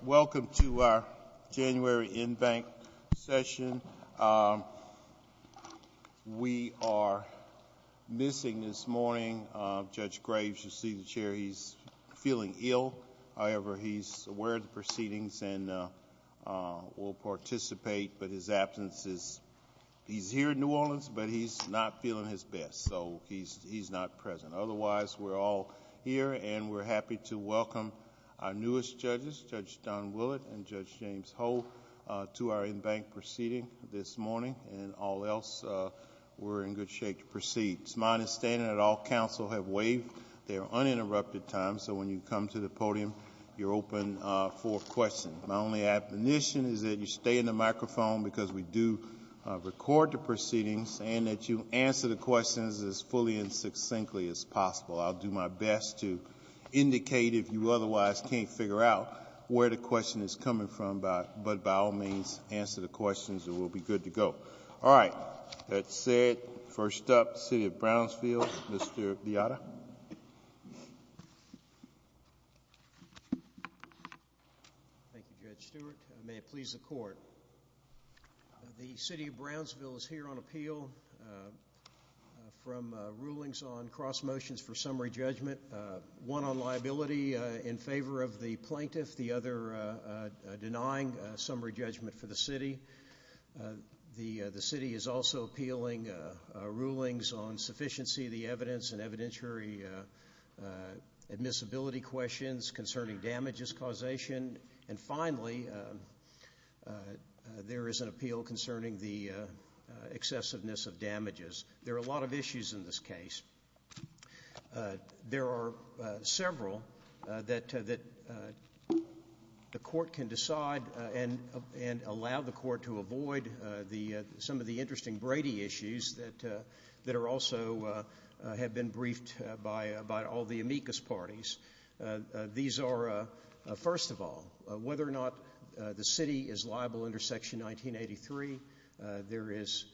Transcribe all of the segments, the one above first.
Welcome to our January InBank session. We are missing, this morning, Judge Graves, your seating chair, he's feeling ill, however, he's aware of the proceedings and will participate, but his absence is, he's here in New Orleans, but he's not feeling his best, so he's not present, otherwise, we're all here and we're happy to welcome our newest judges, Judge Don Willett and Judge James Holt, to our InBank proceeding, this morning, and all else, we're in good shape to proceed. It's my understanding that all counsel have waived their uninterrupted time, so when you come to the podium, you're open for questions. My only admonition is that you stay in the microphone, because we do record the proceedings, and that you answer the questions as fully and succinctly as possible. I'll do my best to indicate, if you otherwise can't figure out, where the question is coming from, but by all means, answer the questions and we'll be good to go. All right, that said, first up, City of Brownsville, Mr. Beata. Thank you, Judge Stewart, and may it please the Court, the City of Brownsville is here on appeal from rulings on cross motions for summary judgment, one on liability in favor of the plaintiff, the other denying summary judgment for the City. The City is also appealing rulings on sufficiency of the evidence and evidentiary admissibility questions concerning damages causation, and finally, there is an appeal concerning the excessiveness of damages. There are a lot of issues in this case. There are several that the Court can decide and allow the Court to avoid some of the interesting amicus parties. These are, first of all, whether or not the City is liable under Section 1983. There is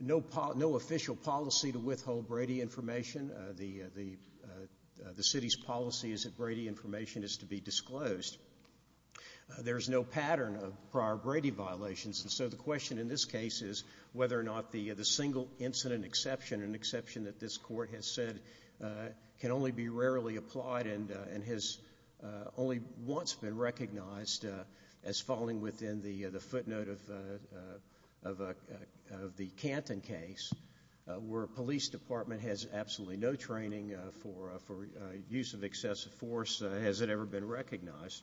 no official policy to withhold Brady information. The City's policy is that Brady information is to be disclosed. There's no pattern of prior Brady violations, and so the question in this case is whether or not the single incident exception, an exception that this Court has said can only be rarely applied and has only once been recognized as falling within the footnote of the Canton case, where a police department has absolutely no training for use of excessive force, has it ever been recognized.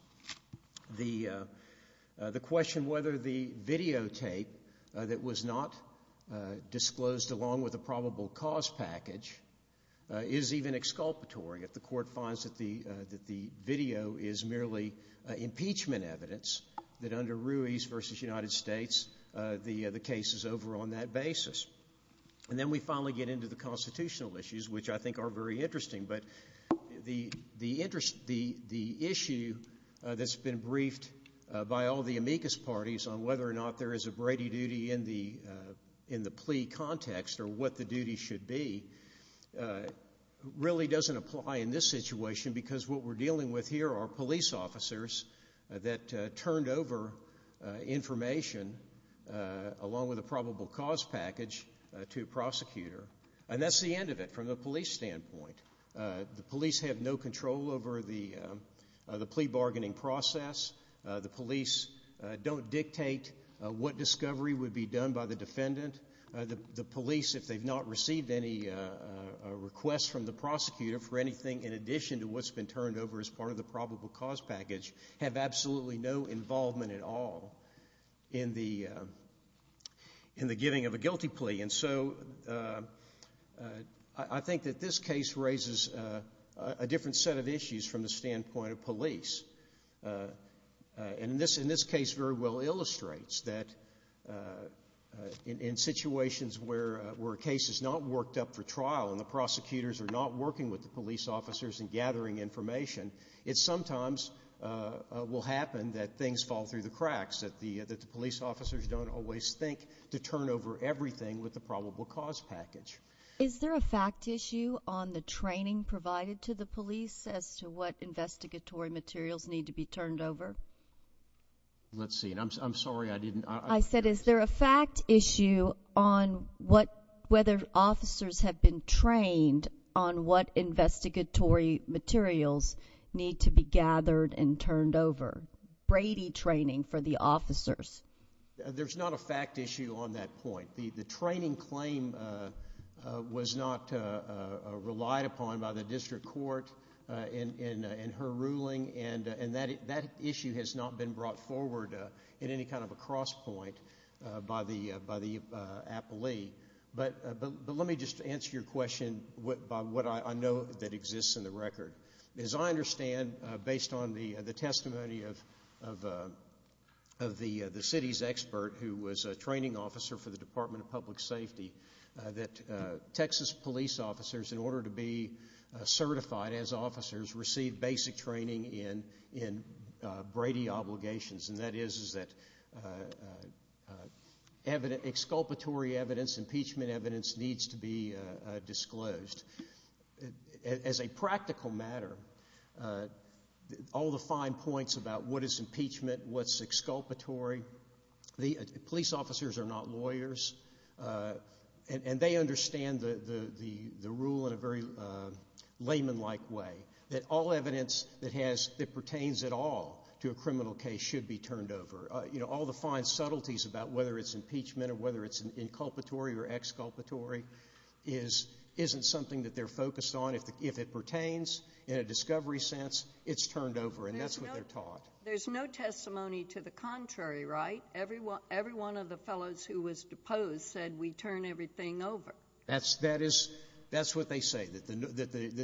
The question whether the videotape that was not disclosed along with the probable cause package is even exculpatory if the Court finds that the video is merely impeachment evidence that under Ruiz v. United States, the case is over on that basis. And then we finally get into the constitutional issues, which I think are very interesting, but the issue that's been briefed by all the amicus parties on whether or not there is a Brady duty in the plea context or what the duty should be really doesn't apply in this situation because what we're dealing with here are police officers that turned over information along with a probable cause package to a prosecutor, and that's the end of it from a police standpoint. The police have no control over the plea bargaining process. The police don't dictate what discovery would be done by the defendant. The police, if they've not received any request from the prosecutor for anything in addition to what's been turned over as part of the probable cause package, have absolutely no involvement at all in the giving of a guilty plea. And so I think that this case raises a different set of issues from the standpoint of police. And this case very well illustrates that in situations where a case is not worked up for trial and the prosecutors are not working with the police officers and gathering information, it sometimes will happen that things fall through the cracks, that the police officers don't always think to turn over everything with the probable cause package. Is there a fact issue on the training provided to the police as to what investigatory materials need to be turned over? Let's see. I'm sorry, I didn't... I said, is there a fact issue on whether officers have been trained on what investigatory materials need to be gathered and turned over? Brady training for the officers. There's not a fact issue on that point. The training claim was not relied upon by the district court in her ruling, and that issue has not been brought forward in any kind of a cross point by the appellee. But let me just answer your question by what I know that exists in the record. As I understand, based on the testimony of the city's expert who was a training officer for the Department of Public Safety, that Texas police officers, in order to be certified as officers, receive basic training in Brady obligations. And that is that exculpatory evidence, impeachment evidence, needs to be disclosed. As a practical matter, all the fine points about what is impeachment, what's exculpatory, police officers are not lawyers, and they understand the rule in a very layman-like way, that all evidence that pertains at all to a criminal case should be turned over. All the fine subtleties about whether it's impeachment or whether it's inculpatory or something that they're focused on, if it pertains in a discovery sense, it's turned over and that's what they're taught. There's no testimony to the contrary, right? Every one of the fellows who was deposed said we turn everything over. That's what they say, that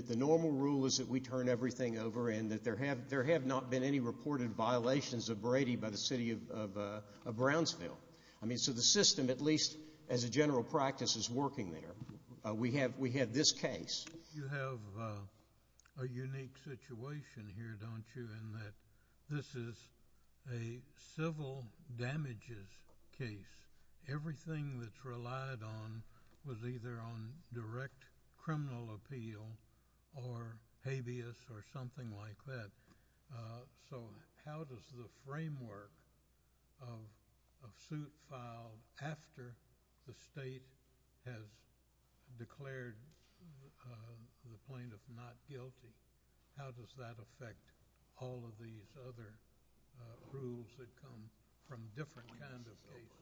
the normal rule is that we turn everything over and that there have not been any reported violations of Brady by the city of Brownsville. I mean, so the system, at least as a general practice, is working there. We have this case. You have a unique situation here, don't you, in that this is a civil damages case. Everything that's relied on was either on direct criminal appeal or habeas or something like that. So how does the framework of suit filed after the state has declared the plaintiff not guilty, how does that affect all of these other rules that come from different kinds of cases?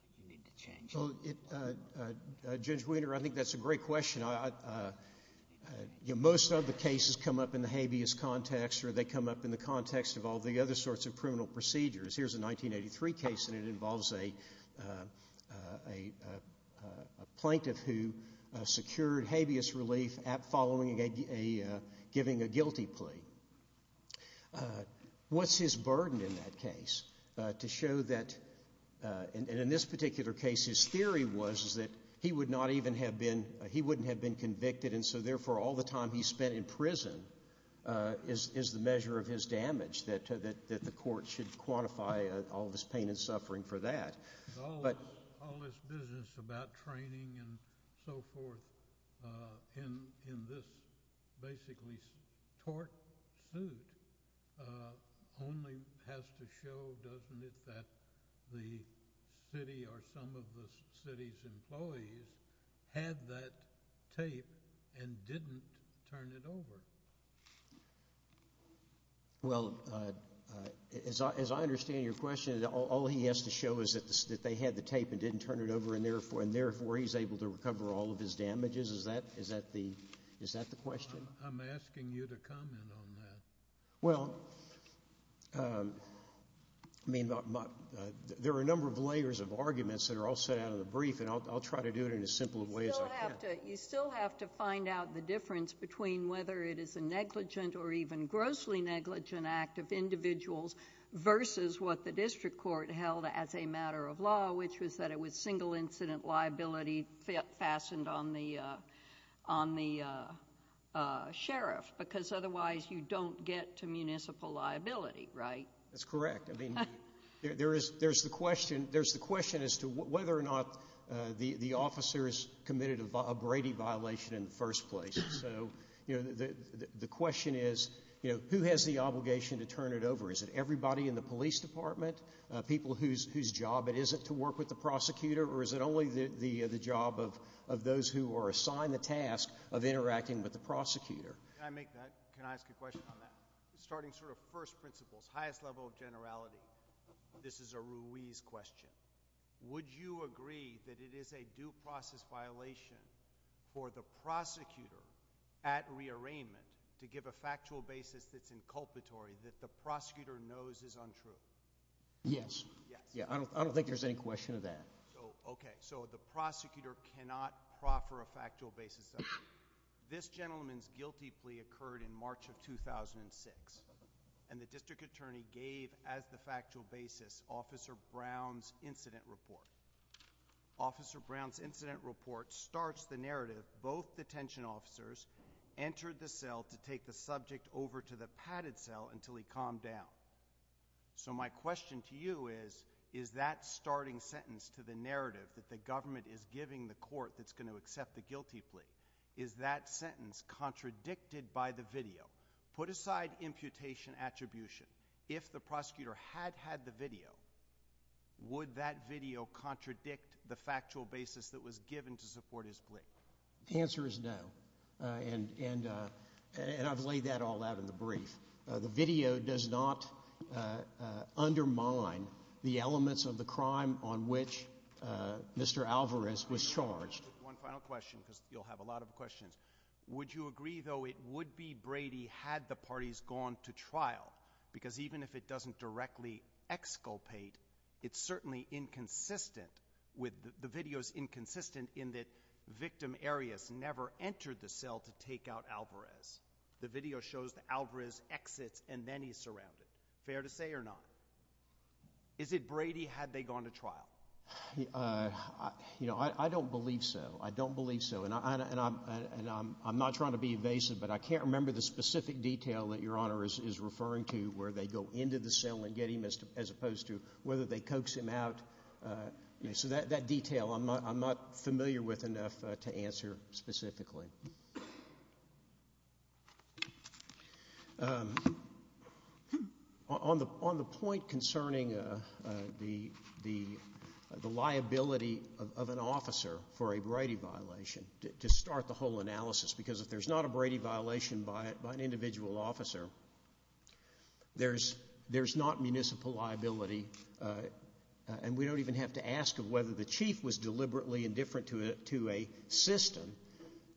So, Judge Weiner, I think that's a great question. You know, most of the cases come up in the habeas context or they come up in the context of all the other sorts of criminal procedures. Here's a 1983 case and it involves a plaintiff who secured habeas relief following a, giving a guilty plea. What's his burden in that case to show that, and in this particular case, his theory was that he would not even have been, he wouldn't have been convicted and so therefore all the time he spent in prison is the measure of his damage, that the court should quantify all this pain and suffering for that. All this business about training and so forth in this basically tort suit only has to show, doesn't it, that the city or some of the city's employees had that tape and didn't turn it over. Well, as I understand your question, all he has to show is that they had the tape and didn't turn it over and therefore he's able to recover all of his damages. Is that the question? I'm asking you to comment on that. Well, I mean, there are a number of layers of arguments that are all set out of the brief and I'll try to do it in as simple a way as I can. You still have to find out the difference between whether it is a negligent or even grossly negligent act of individuals versus what the district court held as a matter of law, which was that it was single incident liability fastened on the, on the sheriff because otherwise you don't get to municipal liability, right? That's correct. I mean, there is, there's the question, there's the question as to whether or not the officers committed a Brady violation in the first place. So, you know, the question is, you know, who has the obligation to turn it over? Is it everybody in the police department, people whose job it is to work with the prosecutor, or is it only the job of those who are assigned the task of interacting with the prosecutor? Can I ask a question on that? Starting sort of first principles, highest level of generality, this is a Ruiz question. Would you agree that it is a due process violation for the prosecutor at rearrangement to give a factual basis that's inculpatory that the prosecutor knows is untrue? Yes. Yeah, I don't think there's any question of that. So, okay. So the prosecutor cannot proffer a factual basis. This gentleman's guilty plea occurred in March of 2006, and the district attorney gave as the factual basis, Officer Brown's incident report. Officer Brown's incident report starts the narrative, both detention officers entered the cell to take the subject over to the padded cell until he calmed down. So my question to you is, is that starting sentence to the narrative that the government is giving the court that's going to accept the guilty plea, is that sentence contradicted by the video? Put aside imputation attribution. If the prosecutor had had the video, would that video contradict the factual basis that was given to support his plea? The answer is no, and I've laid that all out in the brief. The video does not undermine the elements of the crime on which Mr. Alvarez was charged. One final question, because you'll have a lot of questions. Would you agree, though, it would be Brady had the parties gone to trial? Because even if it doesn't directly exculpate, it's certainly inconsistent with the videos, inconsistent in that victim areas never entered the cell to take out Alvarez. The video shows Alvarez exits and then he's surrounded. Fair to say or not? Is it Brady had they gone to trial? You know, I don't believe so. I don't believe so. And I'm not trying to be evasive, but I can't remember the specific detail that Your Honor is referring to where they go into the cell and get him as opposed to whether they coax him out. So that detail, I'm not familiar with enough to answer specifically. On the point concerning the liability of an officer for a Brady violation, to start the whole analysis, because if there's not a Brady violation by an individual officer, there's not municipal liability. And we don't even have to ask of whether the chief was deliberately indifferent to a system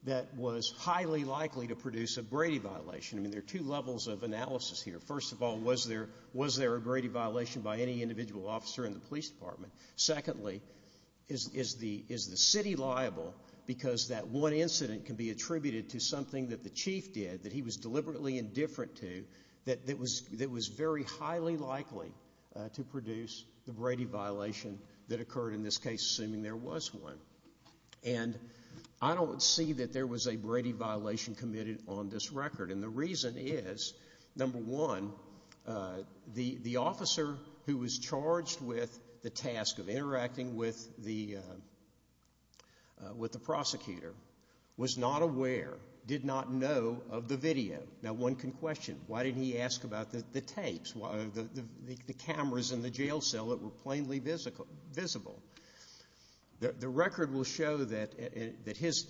that was highly likely to produce a Brady violation. I mean, there are two levels of analysis here. First of all, was there a Brady violation by any individual officer in the police department? Secondly, is the city liable because that one incident can be attributed to something that the chief did that he was deliberately indifferent to that was very highly likely to produce the Brady violation that occurred in this case, assuming there was one. And I don't see that there was a Brady violation committed on this record. And the reason is, number one, the officer who was charged with the task of interacting with the prosecutor was not aware, did not know of the video. Now, one can question, why didn't he ask about the tapes, the cameras in the jail cell that were plainly visible? The record will show that his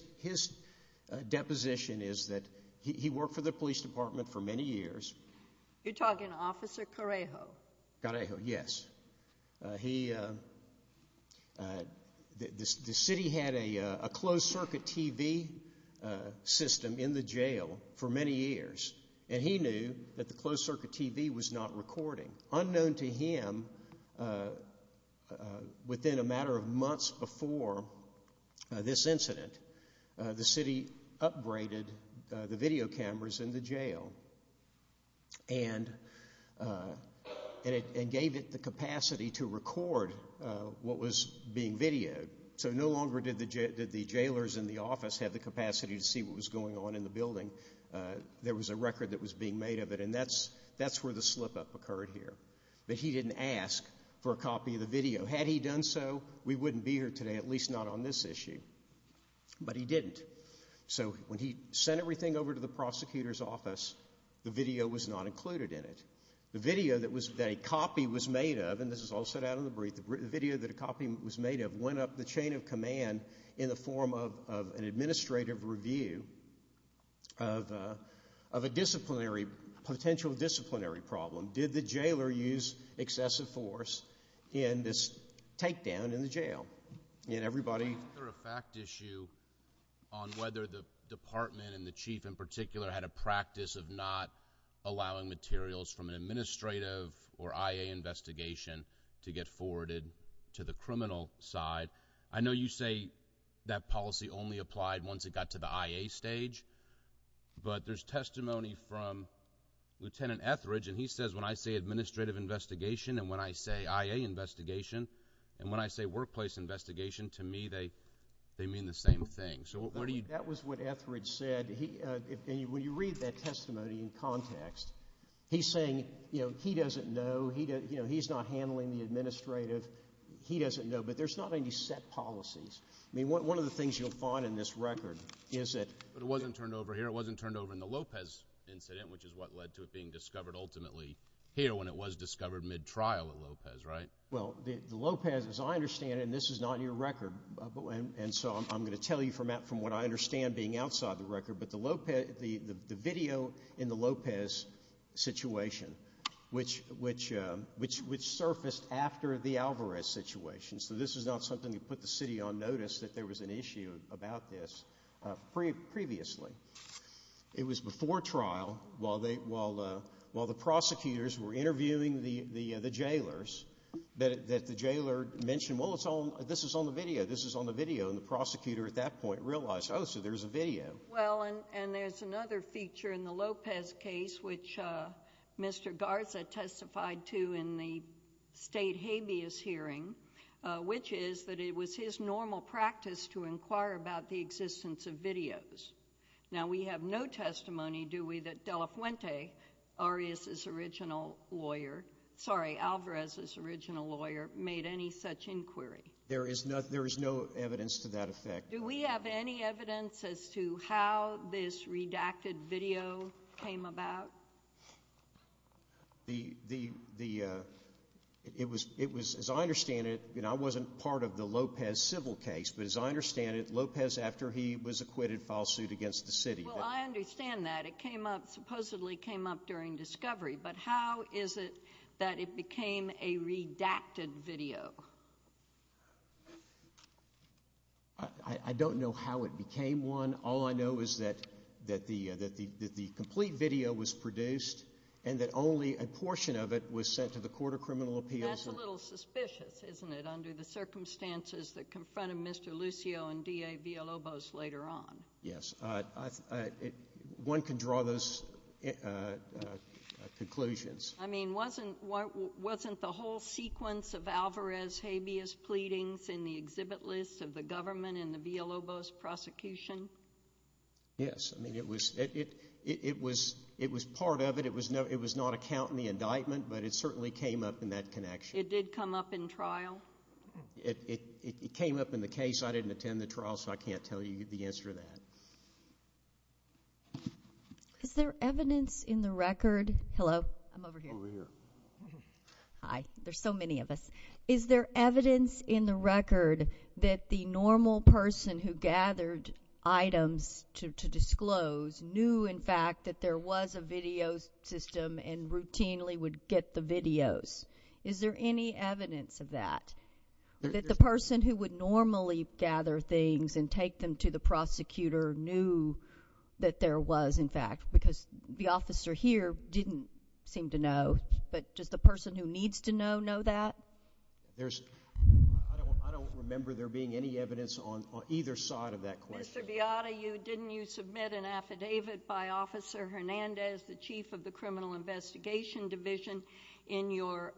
deposition is that he worked for the police department for many years. You're talking Officer Correjo? Correjo, yes. The city had a closed-circuit TV system in the jail for many years, and he knew that the closed-circuit TV was not recording. Unknown to him, within a matter of months before this incident, the city upgraded the video cameras in the jail and gave it the capacity to record what was being videoed. So no longer did the jailers in the office have the capacity to see what was going on in the building. There was a record that was being made of it, and that's where the slip-up occurred that he didn't ask for a copy of the video. Had he done so, we wouldn't be here today, at least not on this issue. But he didn't. So when he sent everything over to the prosecutor's office, the video was not included in it. The video that was made, a copy was made of, and this is all said out of the brief, the video that a copy was made of went up the chain of command in the form of an administrative review of a disciplinary, potential disciplinary problem. Did the jailer use excessive force in this takedown in the jail? I mean, everybody… I'm here for a fact issue on whether the department and the chief in particular had a practice of not allowing materials from an administrative or IA investigation to get forwarded to the criminal side. I know you say that policy only applied once it got to the IA stage, but there's testimony from Lieutenant Etheridge, and he says when I say administrative investigation and when I say IA investigation and when I say workplace investigation, to me, they mean the same thing. So what do you… That was what Etheridge said. When you read that testimony in context, he's saying, you know, he doesn't know, he's not handling the administrative, he doesn't know. But there's not any set policies. I mean, one of the things you'll find in this record is that… But it wasn't turned over here. It wasn't turned over in the Lopez incident, which is what led to it being discovered ultimately here when it was discovered mid-trial at Lopez, right? Well, the Lopez, as I understand it, and this is not your record, and so I'm going to tell you from what I understand being outside the record, but the video in the Lopez situation, which surfaced after the Alvarez situation. So this is not something to put the city on notice that there was an issue about this. Previously, it was before trial, while the prosecutors were interviewing the jailers, that the jailer mentioned, well, this is on the video, this is on the video, and the prosecutor at that point realized, oh, so there's a video. Well, and there's another feature in the Lopez case, which Mr. Garza testified to in the state habeas hearing, which is that it was his normal practice to inquire about the existence of videos. Now, we have no testimony, do we, that Dela Fuente, Arias's original lawyer – sorry, Alvarez's original lawyer – made any such inquiry. There is no evidence to that effect. Do we have any evidence as to how this redacted video came about? Well, the – it was – as I understand it, I wasn't part of the Lopez civil case, but as I understand it, Lopez, after he was acquitted, filed suit against the city. Well, I understand that. It came up – supposedly came up during discovery. But how is it that it became a redacted video? I don't know how it became one. All I know is that the complete video was produced and that only a portion of it was sent to the Court of Criminal Appeals. That's a little suspicious, isn't it, under the circumstances that confronted Mr. Lucio and DA Villalobos later on. Yes. One can draw those conclusions. I mean, wasn't – wasn't the whole sequence of Alvarez habeas pleadings in the exhibit list of the government and the Villalobos prosecution? Yes. I mean, it was – it was part of it. It was not a count in the indictment, but it certainly came up in that connection. It did come up in trial? It came up in the case. I didn't attend the trial, so I can't tell you the answer to that. Is there evidence in the record – hello? I'm over here. Hi. There's so many of us. Is there evidence in the record that the normal person who gathered items to disclose knew, in fact, that there was a video system and routinely would get the videos? Is there any evidence of that, that the person who would normally gather things and take them to the prosecutor knew that there was, in fact, because the officer here didn't seem to know. But does the person who needs to know know that? There's – I don't remember there being any evidence on either side of that question. Mr. Beata, you – didn't you submit an affidavit by Officer Hernandez, the chief of the Criminal Investigation Division, in your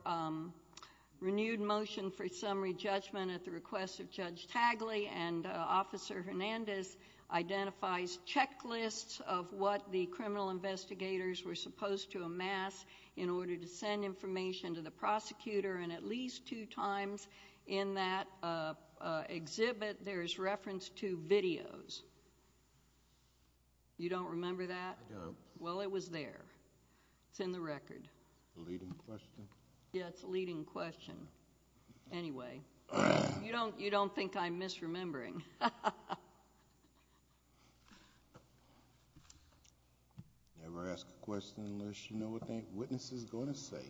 renewed motion for summary judgment at the request of Judge Tagli, and Officer Hernandez identifies checklists of what the criminal investigators were supposed to amass in order to send information to the prosecutor in at least two times in that exhibit, there's reference to videos. You don't remember that? No. Well, it was there. It's in the record. Leading question? Yes, leading question. Anyway, you don't think I'm misremembering. Never ask a question unless you know what that witness is going to say.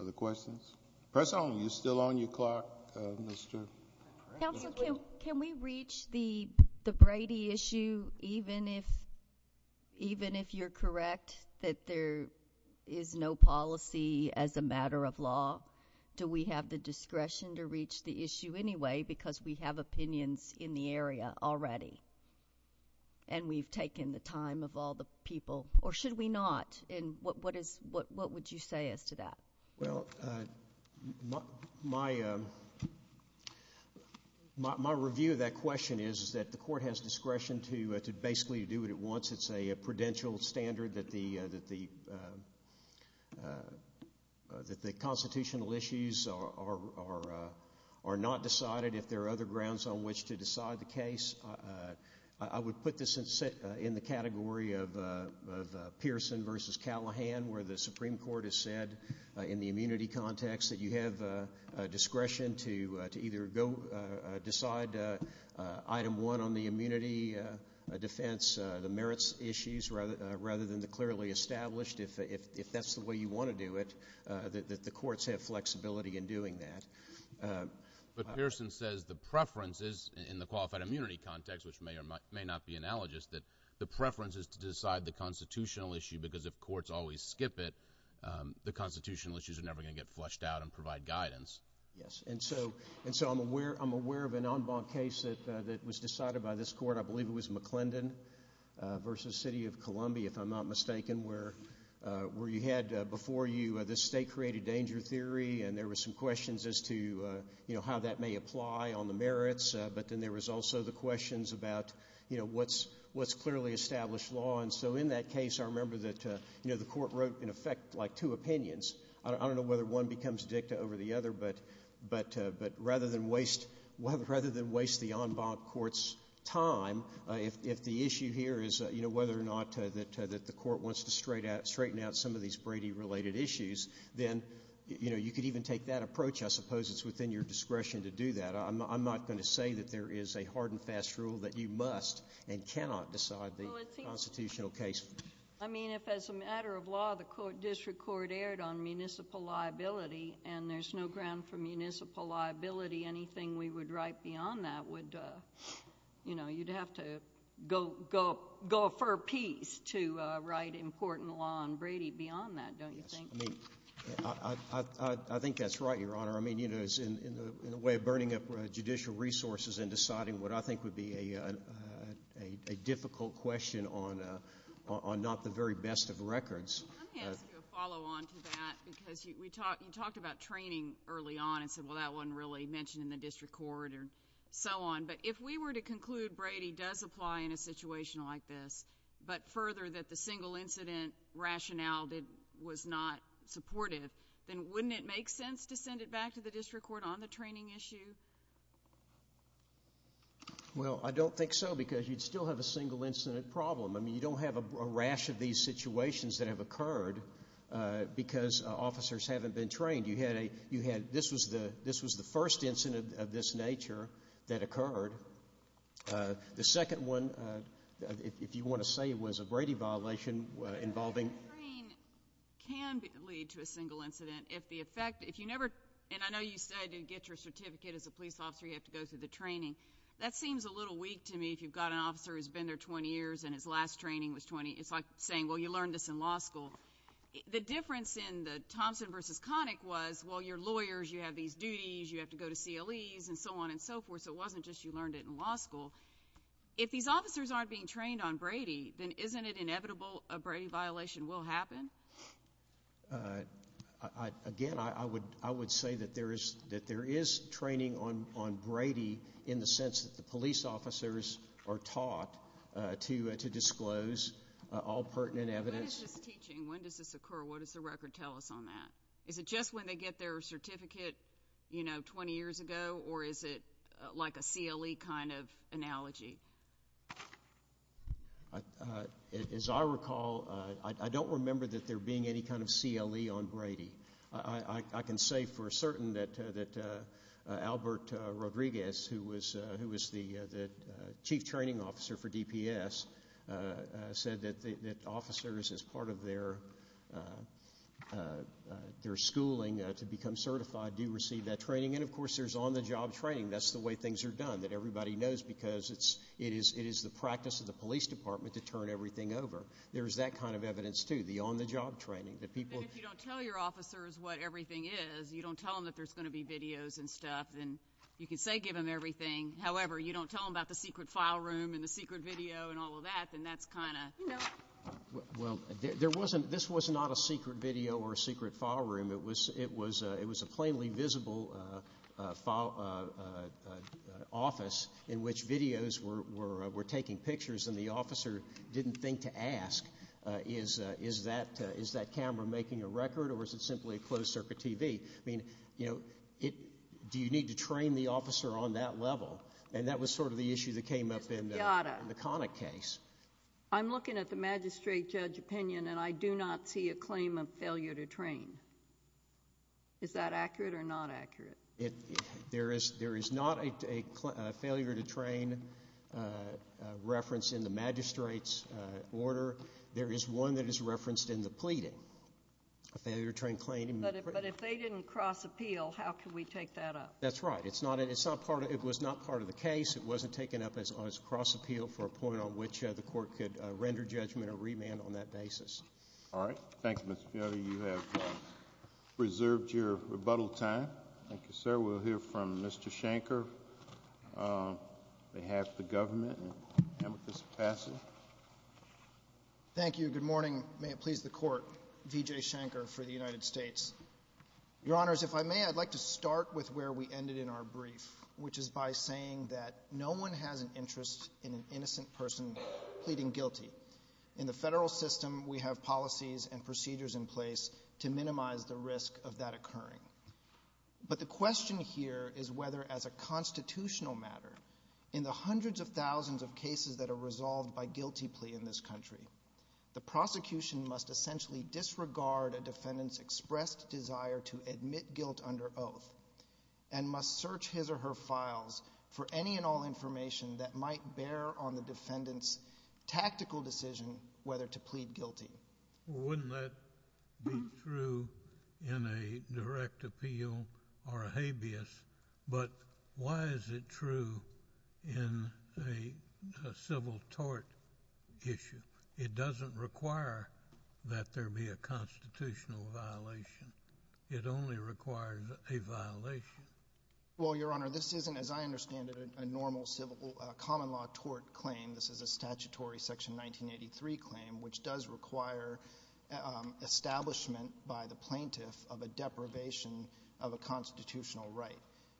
Other questions? Press on. You're still on your clock, Mr. – Counsel, can we reach the Brady issue even if you're correct that there is no policy as a matter of law? Do we have the discretion to reach the issue anyway because we have opinions in the area already and we've taken the time of all the people? Or should we not? And what is – what would you say as to that? Well, my review of that question is that the court has discretion to basically do what it wants. It's a prudential standard that the constitutional issues are not decided if there are other grounds on which to decide the case. I would put this in the category of Pearson versus Callahan where the Supreme Court has the immunity context that you have discretion to either go decide item one on the immunity defense, the merits issues, rather than the clearly established. If that's the way you want to do it, the courts have flexibility in doing that. But Pearson says the preference is, in the qualified immunity context, which may or may not be analogous, that the preference is to decide the constitutional issue because if it is, the issues are never going to get flushed out and provide guidance. Yes. And so I'm aware of an en banc case that was decided by this court. I believe it was McClendon versus City of Columbia, if I'm not mistaken, where you had before you this state-created danger theory and there were some questions as to how that may apply on the merits. But then there was also the questions about what's clearly established law. And so in that case, I remember that the court wrote, in effect, like two opinions. I don't know whether one becomes dicta over the other, but rather than waste the en banc court's time, if the issue here is whether or not the court wants to straighten out some of these Brady-related issues, then you could even take that approach. I suppose it's within your discretion to do that. I'm not going to say that there is a hard and fast rule that you must and cannot decide the constitutional case. I mean, if as a matter of law, the district court erred on municipal liability and there's no ground for municipal liability, anything we would write beyond that would, you know, you'd have to go a fur piece to write important law on Brady beyond that, don't you think? I think that's right, Your Honor. I mean, you know, in the way of burning up judicial resources and deciding what I think would be a difficult question on not the very best of records. I'm going to ask you a follow-on to that because we talked about training early on and said, well, that wasn't really mentioned in the district court and so on, but if we were to conclude Brady does apply in a situation like this, but further that the single incident rationale was not supported, then wouldn't it make sense to send it back to the district court on the training issue? Well, I don't think so because you'd still have a single incident problem. I mean, you don't have a rash of these situations that have occurred because officers haven't been trained. This was the first incident of this nature that occurred. The second one, if you want to say it was a Brady violation involving... The training can lead to a single incident if the effect, if you never, and I know you said it gets your certificate as a police officer, you have to go through the training. That seems a little weak to me if you've got an officer who's been there 20 years and his last training was 20. It's like saying, well, you learned this in law school. The difference in the Thompson versus Connick was, well, you're lawyers, you have these duties, you have to go to CLEs and so on and so forth, so it wasn't just you learned it in law school. If these officers aren't being trained on Brady, then isn't it inevitable a Brady violation will happen? Again, I would say that there is training on Brady in the sense that the police officers are taught to disclose all pertinent evidence. When is this teaching? When does this occur? What does the record tell us on that? Is it just when they get their certificate 20 years ago or is it like a CLE kind of analogy? As I recall, I don't remember that there being any kind of CLE on Brady. I can say for certain that Albert Rodriguez, who was the chief training officer for DPS, said that officers, as part of their schooling to become certified, do receive that training and, of course, there's on-the-job training. That's the way things are done, that everybody knows because it is the practice of the police department to turn everything over. There is that kind of evidence, too, the on-the-job training. I guess you don't tell your officers what everything is. You don't tell them that there's going to be videos and stuff, and you can say give them everything. However, you don't tell them about the secret file room and the secret video and all of that, and that's kind of, you know. Well, this was not a secret video or a secret file room. It was a plainly visible office in which videos were taking pictures, and the officer didn't think to ask, is that camera making a record or is it simply a closed-circuit TV? I mean, you know, do you need to train the officer on that level? And that was sort of the issue that came up in the Connick case. I'm looking at the magistrate judge opinion, and I do not see a claim of failure to train. Is that accurate or not accurate? There is not a failure to train reference in the magistrate's order. There is one that is referenced in the pleading, a failure to train claim. But if they didn't cross-appeal, how can we take that up? That's right. It was not part of the case. It wasn't taken up as cross-appeal for a point on which the court could render judgment or remand on that basis. All right. Thank you, Mr. Kennedy. You have preserved your rebuttal time. Thank you, sir. We'll hear from Mr. Shanker. They have the government. Thank you. Good morning. May it please the court, V.J. Shanker for the United States. Your Honors, if I may, I'd like to start with where we ended in our brief, which is by saying that no one has an interest in an innocent person pleading guilty. In the federal system, we have policies and procedures in place to minimize the risk of that occurring. But the question here is whether, as a constitutional matter, in the hundreds of thousands of cases that are resolved by guilty plea in this country, the prosecution must essentially disregard a defendant's expressed desire to admit guilt under oath and must search his or her files for any and all information that might bear on the defendant's tactical decision whether to plead guilty. Wouldn't that be true in a direct appeal or a habeas? But why is it true in a civil tort issue? It doesn't require that there be a constitutional violation. It only requires a violation. Well, Your Honor, this isn't, as I understand it, a normal civil common law tort claim. This is a statutory Section 1983 claim, which does require establishment by the plaintiff of a deprivation of a constitutional right.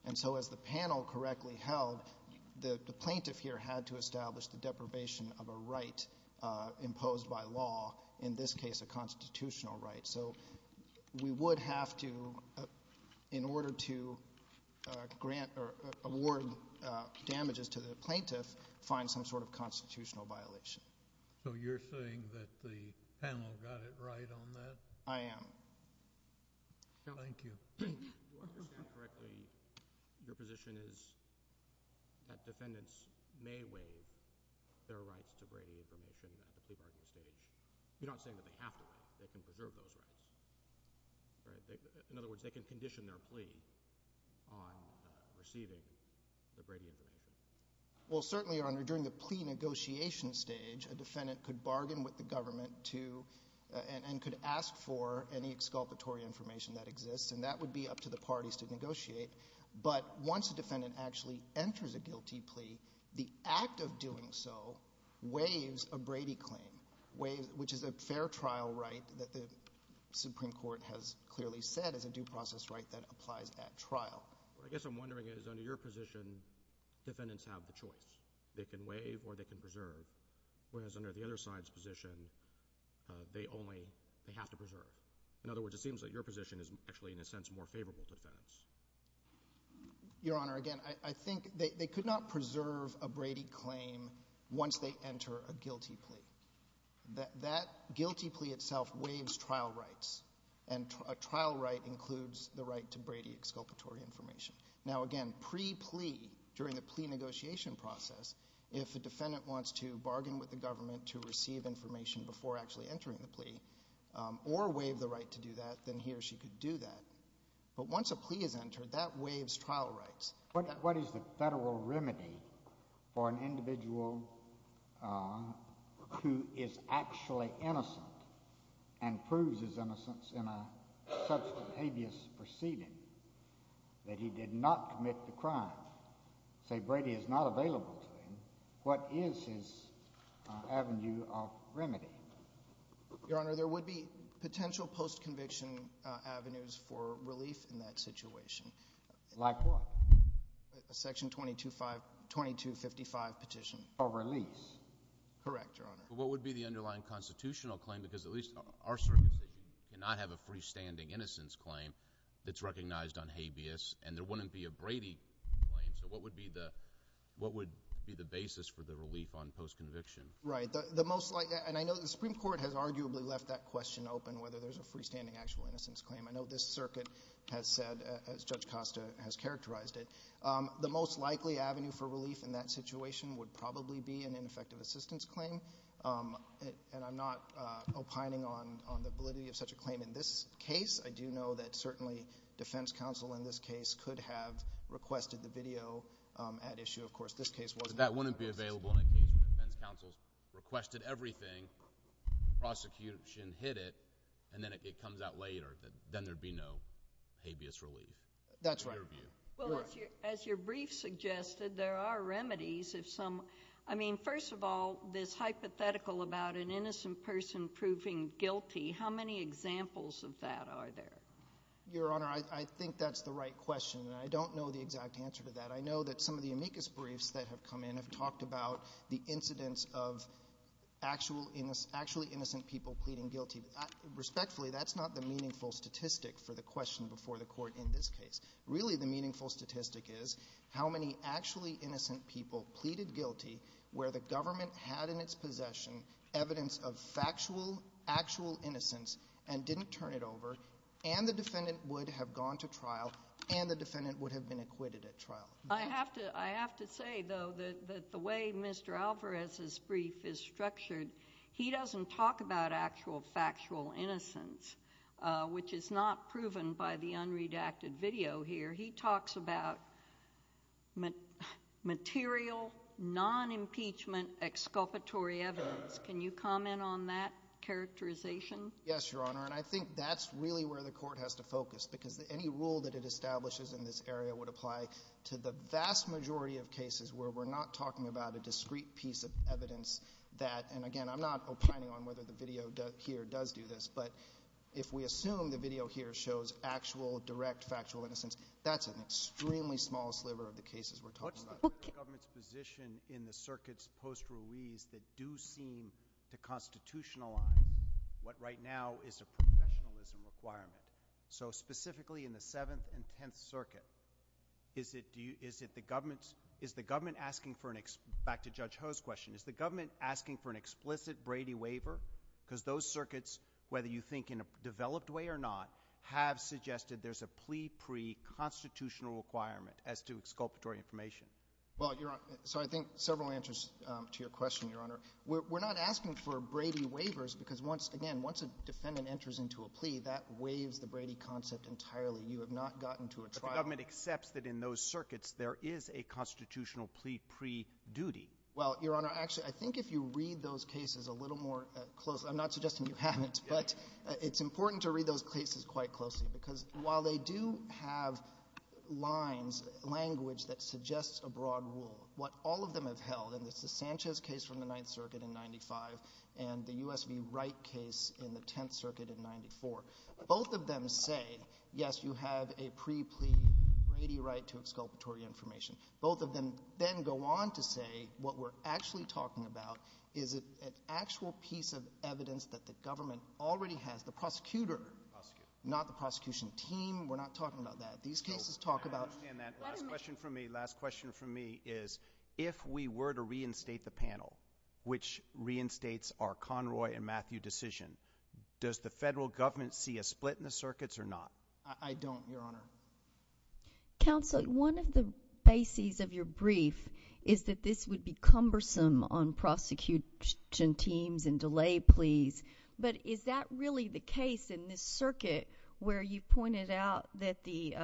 And so, as the panel correctly held, the plaintiff here had to establish the deprivation of a right imposed by law, in this case, a constitutional right. So we would have to, in order to grant or award damages to the plaintiff, find some sort of constitutional violation. So you're saying that the panel got it right on that? I am. Thank you. Well, if I understand correctly, your position is that defendants may waive their rights to waive a maternity leave under state age. You're not saying that they have to. They can preserve those rights. In other words, they can condition their plea on receiving the Brady agreement. Well, certainly, Your Honor, during the plea negotiation stage, a defendant could bargain with the government and could ask for any exculpatory information that exists, and that would be up to the parties to negotiate. But once a defendant actually enters a guilty plea, the act of doing so waives a Brady claim, which is a fair trial right that the Supreme Court has clearly said is a due process right that applies at trial. What I guess I'm wondering is, under your position, defendants have the choice. They can waive or they can preserve. Whereas under the other side's position, they only have to preserve. In other words, it seems that your position is actually, in a sense, more favorable to defendants. Your Honor, again, I think they could not preserve a Brady claim once they enter a guilty plea. That guilty plea itself waives trial rights, and a trial right includes the right to Brady exculpatory information. Now, again, pre-plea, during the plea negotiation process, if the defendant wants to bargain with the government to receive information before actually entering the plea or waive the right to do that, then he or she could do that. But once a plea is entered, that waives trial rights. What is the federal remedy for an individual who is actually innocent and proves his innocence in such a hideous proceeding that he did not commit the crime? Say Brady is not available to him. What is his avenue of remedy? Your Honor, there would be potential post-conviction avenues for relief in that situation. Like what? A Section 2255 petition. A release. Correct, Your Honor. What would be the underlying constitutional claim? Because at least our Circuit did not have a freestanding innocence claim that's recognized on habeas, and there wouldn't be a Brady claim. So what would be the basis for the relief on post-conviction? Right, and I know the Supreme Court has arguably left that question open, whether there's a freestanding actual innocence claim. I know this Circuit has said, as Judge Costa has characterized it, the most likely avenue for relief in that situation would probably be an ineffective assistance claim. And I'm not opining on the validity of such a claim in this case. I do know that certainly defense counsel in this case could have requested the video at issue. Of course, this case wasn't. That wouldn't be available if defense counsel requested everything, prosecution hit it, and then if it comes out later, then there'd be no habeas relief. That's right. As your brief suggested, there are remedies if some... I mean, first of all, this hypothetical about an innocent person proving guilty, how many examples of that are there? Your Honor, I think that's the right question. I don't know the exact answer to that. I know that some of the amicus briefs that have come in have talked about the incidence of actually innocent people pleading guilty. Respectfully, that's not the meaningful statistic for the question before the court in this case. Really, the meaningful statistic is how many actually innocent people pleaded guilty where the government had in its possession evidence of factual, actual innocence and didn't turn it over and the defendant would have gone to trial and the defendant would have been acquitted at trial. I have to say, though, that the way Mr. Alvarez's brief is structured, he doesn't talk about actual factual innocence, which is not proven by the unredacted video here. He talks about material, non-impeachment, exculpatory evidence. Can you comment on that characterization? Yes, Your Honor, and I think that's really where the court has to focus because any rule that it establishes in this area would apply to the vast majority of cases where we're not talking about a discrete piece of evidence that, and again, I'm not opining on whether the video here does do this, but if we assume the video here shows actual, direct factual innocence, that's an extremely small sliver of the cases we're talking about. What's the government's position in the circuit's post-release that do seem to constitutionalize what right now is a professionalism requirement? So, specifically in the Seventh and Tenth Circuit, is the government asking for an, back to Judge Ho's question, is the government asking for an explicit Brady waiver? Because those circuits, whether you think in a developed way or not, have suggested there's a plea pre-constitutional requirement as to exculpatory information. Well, Your Honor, so I think several answers to your question, Your Honor. We're not asking for Brady waivers because, again, once a defendant enters into a plea, that waives the Brady concept entirely. You have not gotten to a trial. But the government accepts that in those circuits, there is a constitutional plea pre-duty. Well, Your Honor, actually, I think if you read those cases a little more closely, I'm not suggesting you haven't, but it's important to read those cases quite closely because while they do have lines, language that suggests a broad rule, what all of them have held, and it's the Sanchez case from the Ninth Circuit in 95, and the U.S. v. Wright case in the Tenth Circuit in 94, both of them say, yes, you have a plea pre-Brady right to exculpatory information. Both of them then go on to say what we're actually talking about is an actual piece of evidence that the government already has, the prosecutor, not the prosecution team. We're not talking about that. These cases talk about... I understand that. Last question for me. Last question for me is, if we were to reinstate the panel, which reinstates our Conroy and does the federal government see a split in the circuits or not? I don't, Your Honor. Counselor, one of the bases of your brief is that this would be cumbersome on prosecution teams and delay pleas, but is that really the case in this circuit where you pointed out that the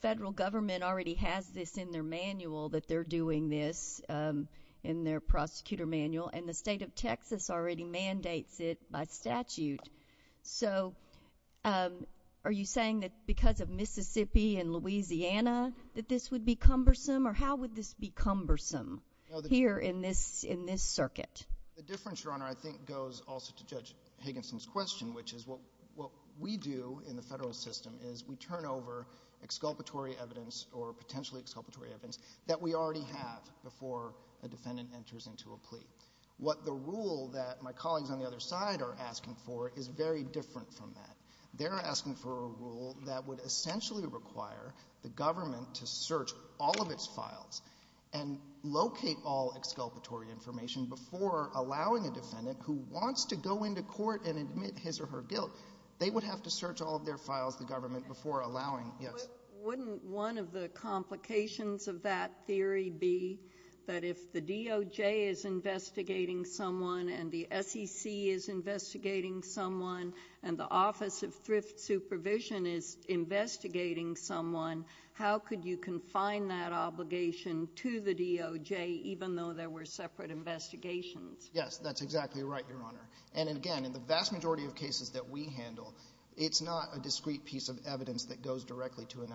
federal government already has this in their manual, that they're doing this in their prosecutor manual, and the state of Texas already mandates it by statute? So are you saying that because of Mississippi and Louisiana that this would be cumbersome, or how would this be cumbersome here in this circuit? The difference, Your Honor, I think goes also to Judge Higginson's question, which is what we do in the federal system is we turn over exculpatory evidence or potentially exculpatory evidence that we already have before a defendant enters into a plea. What the rule that my colleagues on the other side are asking for is very different from that. They're asking for a rule that would essentially require the government to search all of its files and locate all exculpatory information before allowing a defendant who wants to go into court and admit his or her guilt. They would have to search all of their files, the government, before allowing... Wouldn't one of the complications of that theory be that if the DOJ is investigating someone and the SEC is investigating someone and the Office of Thrift Supervision is investigating someone, how could you confine that obligation to the DOJ, even though there were separate investigations? Yes, that's exactly right, Your Honor. And again, in the vast majority of cases that we handle, it's not a discrete piece of evidence that goes directly to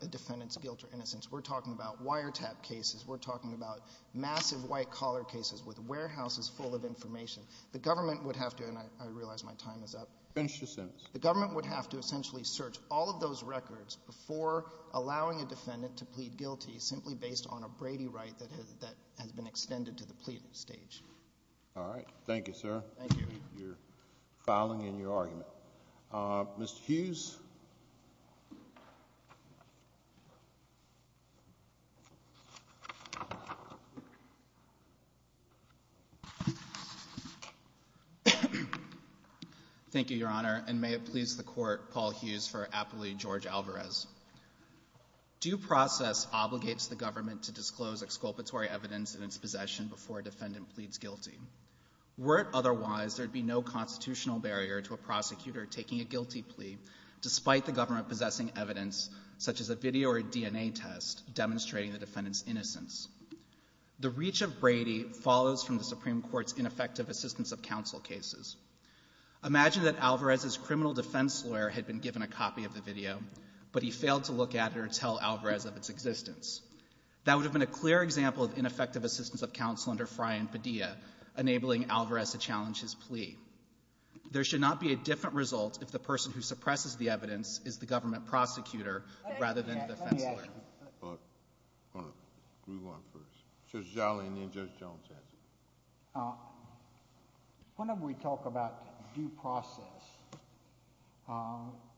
a defendant's guilt or innocence. We're talking about wiretap cases. We're talking about massive white-collar cases with warehouses full of information. The government would have to... And I realize my time is up. Finish your sentence. The government would have to essentially search all of those records before allowing a defendant to plead guilty simply based on a Brady right that had been extended to the pleading stage. All right. Thank you, sir. Thank you. You're filing in your argument. Mr. Hughes? Thank you, Your Honor, and may it please the Court, Paul Hughes for Appellee George Alvarez. Due process obligates the government to disclose exculpatory evidence in its possession before a defendant pleads guilty. Were it otherwise, there'd be no constitutional barrier to a prosecutor taking a guilty plea despite the government possessing evidence such as a video or a DNA test demonstrating the defendant's innocence. The reach of Brady follows from the Supreme Court's ineffective assistance of counsel cases. Imagine that Alvarez's criminal defense lawyer had been given a copy of the video, but he failed to look at it or tell Alvarez of its existence. That would have been a clear example of ineffective assistance of counsel under Frey and Padilla, enabling Alvarez to challenge his plea. There should not be a different result if the person who suppresses the evidence is the government prosecutor rather than the defendant. Whenever we talk about due process,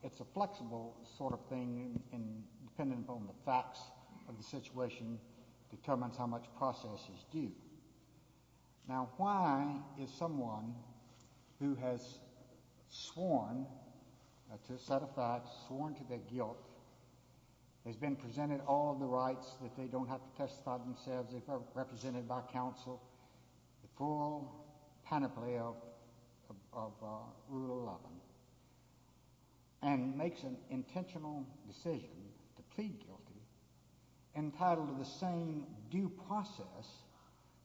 it's a flexible sort of thing, and depending upon the facts of the situation determines how much process is due. Why is someone who has sworn to their guilt, has been presented all the rights that they don't have to testify themselves, represented by counsel, the full kind of play of rule of law, and makes an intentional decision to plead guilty, entitled to the same due process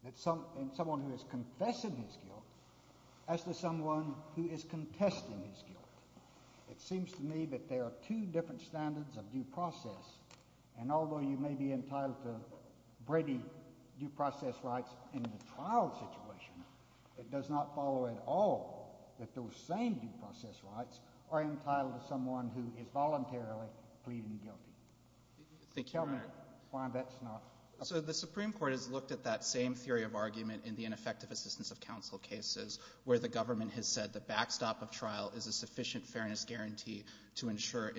as someone who has confessed his guilt as to someone who is contesting his guilt. It seems to me that there are two different standards of due process, and although you may be entitled to Brady due process rights in the trial situation, it does not follow at all that those same due process rights are entitled to someone who is voluntarily pleading guilty. The Supreme Court has looked at that same theory of argument in the ineffective assistance of counsel cases, where the government has said the backstop of trial is a sufficient fairness guarantee to ensure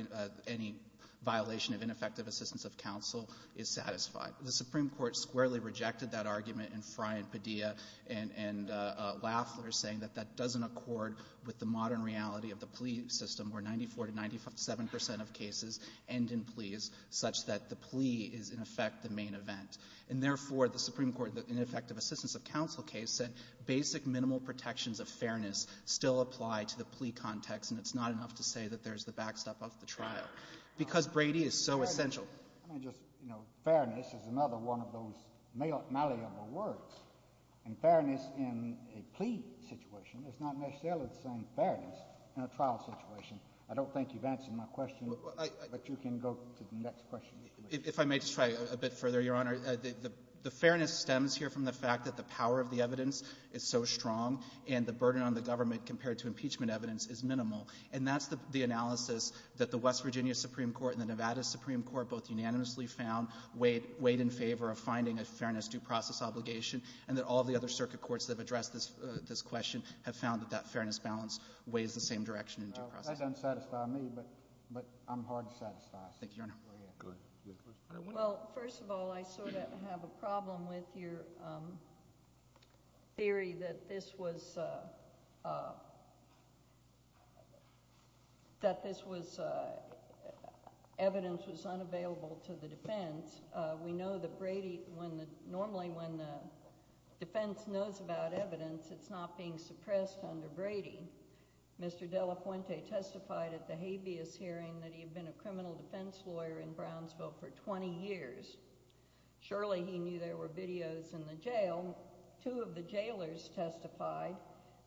any violation of ineffective assistance of counsel is satisfied. The Supreme Court squarely rejected that argument in Frye and Padilla, and Lafler is saying that that doesn't accord with the modern reality of the plea system, where 94 to 97% of cases end in pleas, such that the plea is, in effect, the main event. And therefore, the Supreme Court, in the ineffective assistance of counsel case, said basic minimal protections of fairness still apply to the plea context, and it's not enough to say that there's the backstop of the trial, because Brady is so essential. Let me just, you know, fairness is another one of those malleable words, and fairness in a plea situation is not necessarily the same fairness in a trial situation. I don't think you've answered my question, but you can go to the next question. If I may try a bit further, Your Honor, the fairness stems here from the fact that the power of the evidence is so strong, and the burden on the government compared to impeachment evidence is minimal, and that's the analysis that the West Virginia Supreme Court and the Nevada Supreme Court both unanimously found weighed in favor of finding a fairness due process obligation, and that all the other circuit courts that have addressed this question have found that that fairness balance weighs the same direction. That doesn't satisfy me, but I'm hard to satisfy. Thank you, Your Honor. Well, first of all, I sort of have a problem with your theory that this was, that this was, evidence was unavailable to the defense. We know that Brady, when the, normally when the defense knows about evidence, it's not being suppressed under Brady. Mr. De La Fuente testified at the habeas hearing that he had been a criminal defense lawyer in Brownsville for 20 years. Surely he knew there were videos in the jail. Two of the jailers testified.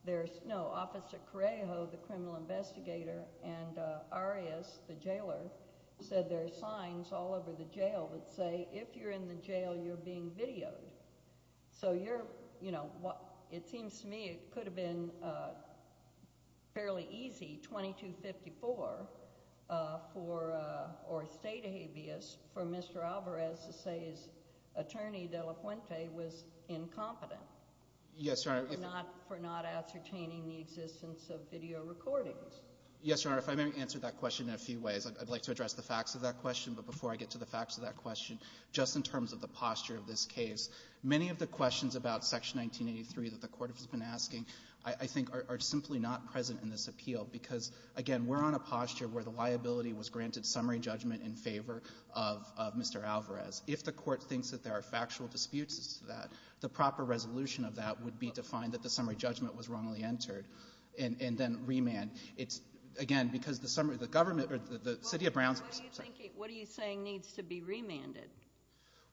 There's, no, Officer Correjo, the criminal investigator, and Arias, the jailer, said there's signs all over the jail that say, if you're in the jail, you're being videoed. So you're, you know, it seems to me it could have been fairly easy, 2254, for, or state habeas, for Mr. Alvarez to say his attorney, De La Fuente, was incompetent. Yes, Your Honor. For not ascertaining the existence of video recordings. Yes, Your Honor, if I may answer that question in a few ways. I'd like to address the facts of that question, but before I get to the facts of that question, just in terms of the posture of this case, many of the questions about Section 1983 that the Court has been asking, I think, are simply not present in this appeal. Because, again, we're on a posture where the liability was granted summary judgment in favor of Mr. Alvarez. If the Court thinks that there are factual disputes to that, the proper resolution of that would be to find that the summary judgment was wrongly entered, and then remand. It's, again, because the summary, the government, the city of Brownsville. What are you saying needs to be remanded?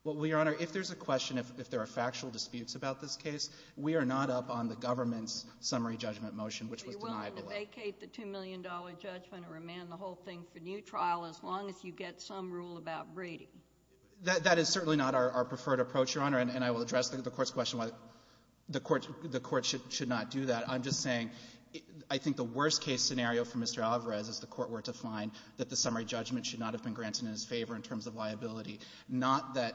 Well, Your Honor, if there's a question, if there are factual disputes about this case, we are not up on the government's summary judgment motion, which we deny. You're willing to vacate the $2 million judgment or remand the whole thing for new trial as long as you get some rule about breeding? That is certainly not our preferred approach, Your Honor, and I will address the Court's question why the Court should not do that. I'm just saying, I think the worst case scenario for Mr. Alvarez is the Court were to find that the summary judgment should not have been granted in his favor in terms of liability, not that,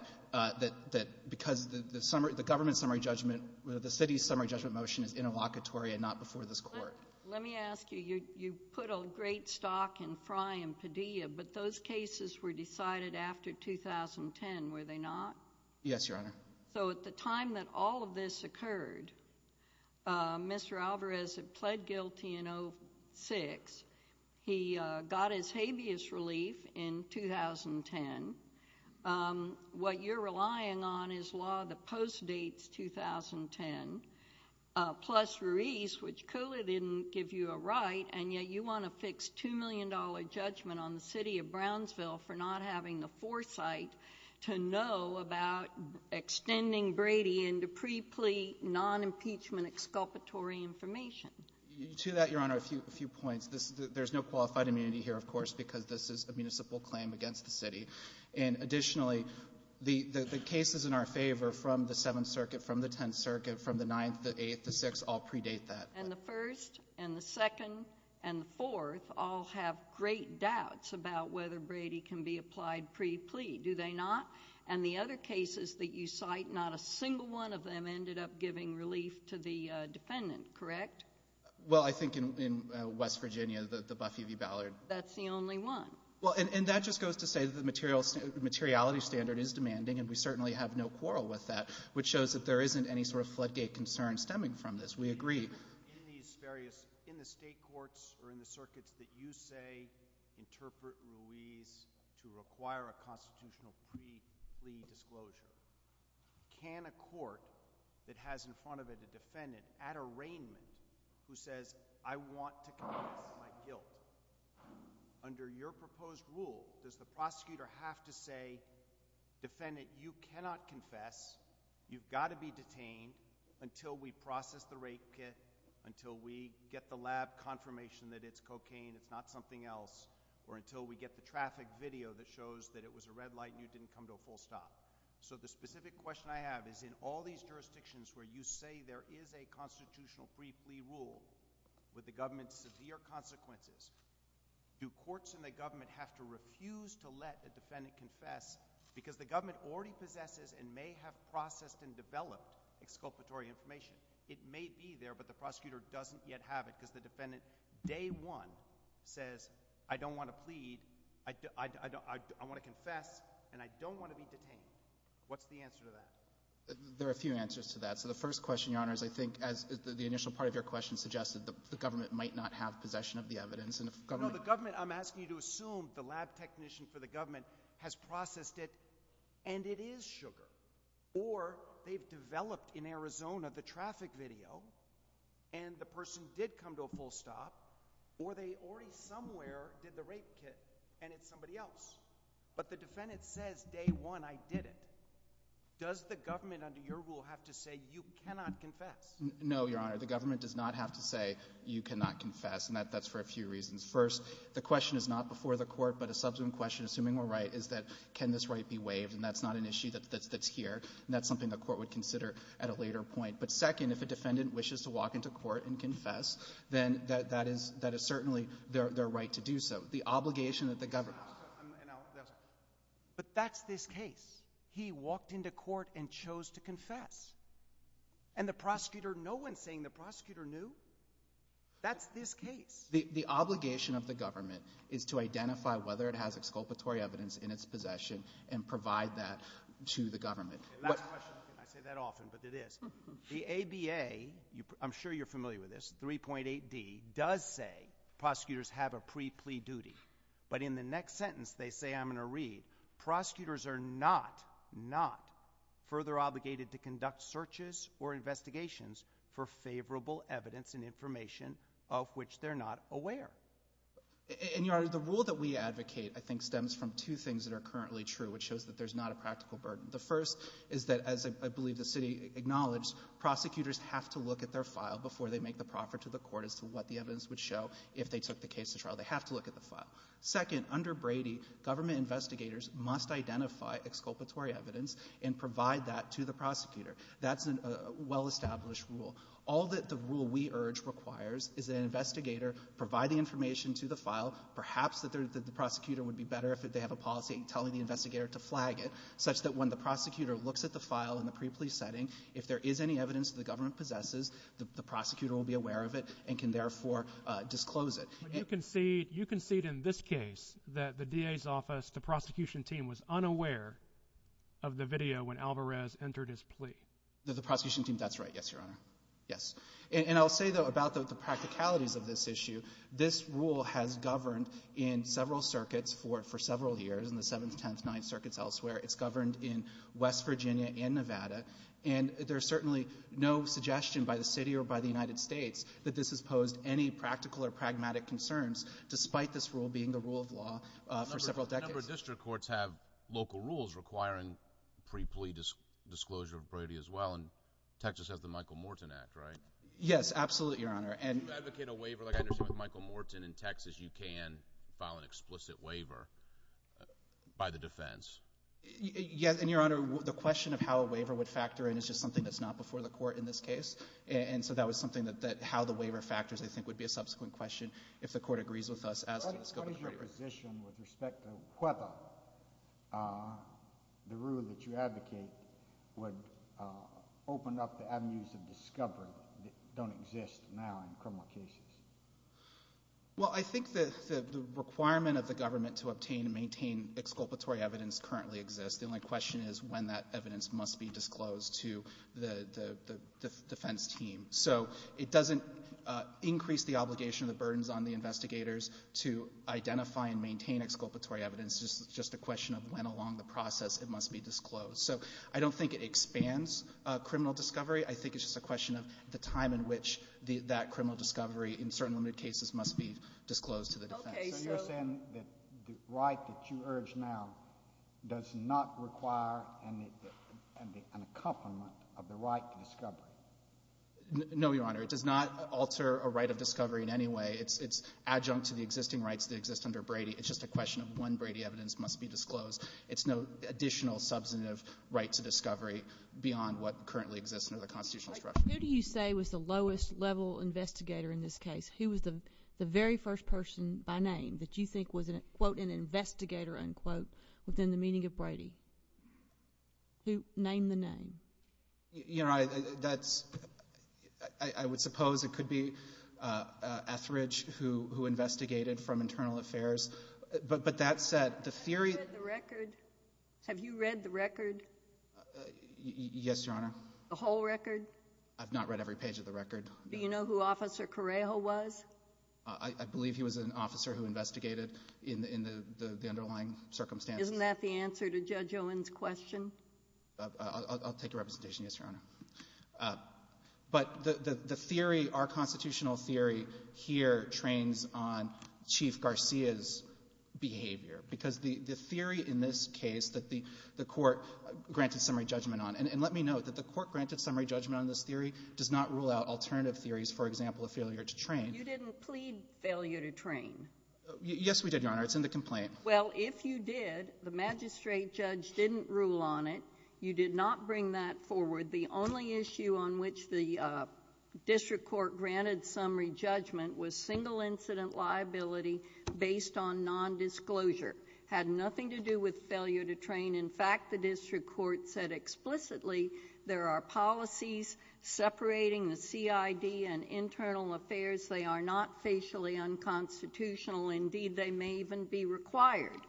because the government's summary judgment, the city's summary judgment motion is interlocutory and not before this Court. Let me ask you, you put a great stock in Frye and Padilla, but those cases were decided after 2010, were they not? Yes, Your Honor. So at the time that all of this occurred, Mr. Alvarez had pled guilty in 06. He got his habeas relief in 2010. What you're relying on is law that postdates 2010, plus Ruiz, which clearly didn't give you a right, and yet you want to fix $2 million judgment on the city of Brownsville for not having the foresight to know about extending Brady into pre-plea non-impeachment exculpatory information. To that, Your Honor, a few points. There's no qualified immunity here, of course, because this is a municipal claim against the city. And additionally, the cases in our favor from the 7th Circuit, from the 10th Circuit, from the 9th, the 8th, the 6th, all predate that. And the 1st and the 2nd and 4th all have great doubts about whether Brady can be applied pre-plea, do they not? And the other cases that you cite, not a single one of them ended up giving relief to the defendant, correct? Well, I think in West Virginia, the Buffy v. Ballard. That's the only one. Well, and that just goes to say that the materiality standard is demanding, and we certainly have no quarrel with that, which shows that there isn't any sort of floodgate concern stemming from this. We agree. In these various, in the state courts or in the circuits that you say interpret Ruiz to require a constitutional pre-plea disclosure, can a court that has in front of it a defendant, at arraignment, who says, I want to confess my guilt, under your proposed rule, does the prosecutor have to say, defendant, you cannot confess. You've got to be detained until we process the rape kit, until we get the lab confirmation that it's cocaine, it's not something else, or until we get the traffic video that shows that it was a red light and you didn't come to a full stop. So the specific question I have is, in all these jurisdictions where you say there is a constitutional pre-plea rule with the government's severe consequences, do courts and the government have to refuse to let the defendant confess, because the government already possesses and may have processed and developed exculpatory information. It may be there, but the prosecutor doesn't yet have it, because the defendant, day one, says, I don't want to plead, I want to confess, and I don't want to be detained. What's the answer to that? There are a few answers to that. So the first question, Your Honor, is I think, as the initial part of your question suggested, the government might not have possession of the evidence, and if the government... No, the government, I'm asking you to assume the lab technician for the government has processed it, and it is sugar, or they've developed in Arizona the traffic video, and the person did come to a full stop, or they already somewhere did the rape kit, and it's somebody else. But the defendant says, day one, I did it. Does the government, under your rule, have to say, you cannot confess? No, Your Honor, the government does not have to say, you cannot confess, and that's for a few reasons. First, the question is not before the court, but a subsequent question, assuming we're right, is that, can this right be waived? And that's not an issue that's here, and that's something the court would consider at a later point. But second, if the defendant wishes to walk into court and confess, then that is certainly their right to do so. The obligation that the government... But that's this case. He walked into court and chose to confess, and the prosecutor, no one's saying the prosecutor knew. That's this case. The obligation of the government is to identify whether it has exculpatory evidence in its possession and provide that to the government. I say that often, but it is. The ADA, I'm sure you're familiar with this, 3.8D, does say prosecutors have a pre-plea duty. But in the next sentence, they say, I'm going to read, prosecutors are not, not further obligated to conduct searches or investigations for favorable evidence and information of which they're not aware. And, Your Honor, the rule that we advocate, I think, stems from two things that are currently true, which shows that there's not a practical burden. The first is that, as I believe the city acknowledged, prosecutors have to look at their file before they make the proffer to the court as to what the evidence would show if they took the case to trial. They have to look at the file. Second, under Brady, government investigators must identify exculpatory evidence and provide that to the prosecutor. That's a well-established rule. All that the rule we urge requires is an investigator provide the information to the file, perhaps that the prosecutor would be better if they have a policy telling the investigator to flag it, such that when the prosecutor looks at the file in the pre-plea setting, if there is any evidence the government possesses, the prosecutor will be aware of it and can therefore disclose it. You concede in this case that the DA's office, the prosecution team, was unaware of the video when Alvarez entered his plea. No, the prosecution team, that's right. Yes, Your Honor. Yes. And I'll say, though, about the practicalities of this issue, this rule has governed in several circuits for several years, in the 7th, 10th, 9th circuits elsewhere. It's governed in West Virginia and Nevada. And there's certainly no suggestion by the city or by the United States that this has any practical or pragmatic concerns, despite this rule being the rule of law for several decades. A number of district courts have local rules requiring pre-plea disclosure of brevity as well. And Texas has the Michael Morton Act, right? Yes, absolutely, Your Honor. If you advocate a waiver, like I understand with Michael Morton in Texas, you can file an explicit waiver by the defense. Yes, and Your Honor, the question of how a waiver would factor in is just something that's not before the court in this case. And so that was something that how the waiver factors, I think, would be a subsequent question if the court agrees with us as to the scope of the waiver. What is your position with respect to whether the rule that you advocate would open up the avenues of discovery that don't exist now in criminal cases? Well, I think that the requirement of the government to obtain and maintain exculpatory evidence currently exists. The only question is when that evidence must be disclosed to the defense team. So it doesn't increase the obligation or the burdens on the investigators to identify and maintain exculpatory evidence. It's just a question of when along the process it must be disclosed. So I don't think it expands criminal discovery. I think it's just a question of the time in which that criminal discovery in certain limited cases must be disclosed to the defense. So you're saying that the right that you urge now does not require an accompaniment of the right to discovery? No, Your Honor. It does not alter a right of discovery in any way. It's adjunct to the existing rights that exist under Brady. It's just a question of when Brady evidence must be disclosed. It's no additional substantive right to discovery beyond what currently exists under the constitutional structure. Who do you say was the lowest level investigator in this case? Who was the very first person by name that you think was, quote, an investigator, unquote, within the meaning of Brady? Who? Name the name. Your Honor, that's, I would suppose it could be Etheridge who investigated from Internal Affairs. But that's the theory. Have you read the record? Yes, Your Honor. The whole record? I've not read every page of the record. Do you know who Officer Correjo was? I believe he was an officer who investigated in the underlying circumstances. Isn't that the answer to Judge Owen's question? I'll take the representation, yes, Your Honor. But the theory, our constitutional theory here trains on Chief Garcia's behavior. Because the theory in this case that the court granted summary judgment on, and let me know that the court granted summary judgment on this theory does not rule out alternative theories, for example, a failure to train. You didn't plead failure to train. Yes, we did, Your Honor. It's in the complaint. Well, if you did, the magistrate judge didn't rule on it. You did not bring that forward. The only issue on which the district court granted summary judgment was single incident Had nothing to do with failure to train. In fact, the district court said explicitly there are policies separating the CID and internal affairs. They are not facially unconstitutional. Indeed, they may even be required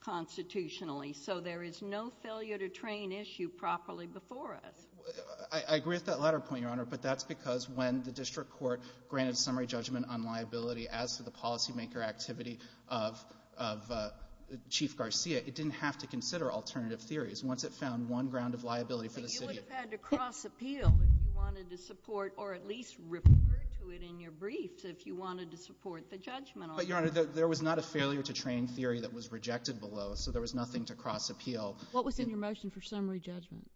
constitutionally. So there is no failure to train issue properly before us. I agree with that latter point, Your Honor, but that's because when the district court granted summary judgment on liability as to the policymaker activity of Chief Garcia, it didn't have to consider alternative theories. Once it found one ground of liability for the CID. But you had to cross appeal if you wanted to support or at least refer to it in your briefs if you wanted to support the judgment. But, Your Honor, there was not a failure to train theory that was rejected below. So there was nothing to cross appeal. What was in your motion for summary judgment?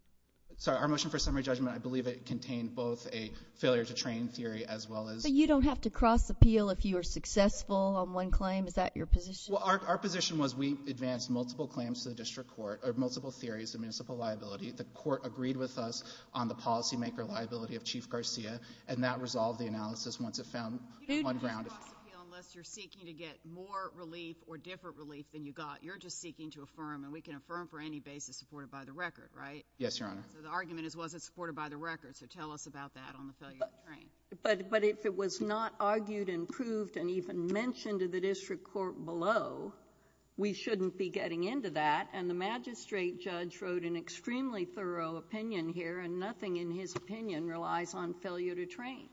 Sorry, our motion for summary judgment, I believe it contained both a failure to train theory as well as. But you don't have to cross appeal if you are successful on one claim. Is that your position? Our position was we advanced multiple claims to the district court or multiple theories of municipal liability. The court agreed with us on the policymaker liability of Chief Garcia and that resolved the analysis once it found one ground. You didn't cross appeal unless you're seeking to get more relief or different relief than you got. You're just seeking to affirm and we can affirm for any basis supported by the record, right? Yes, Your Honor. The argument is was it supported by the record. So tell us about that on the failure to train. But if it was not argued and proved and even mentioned to the district court below, we shouldn't be getting into that. And the magistrate judge wrote an extremely thorough opinion here and nothing in his opinion relies on failure to train.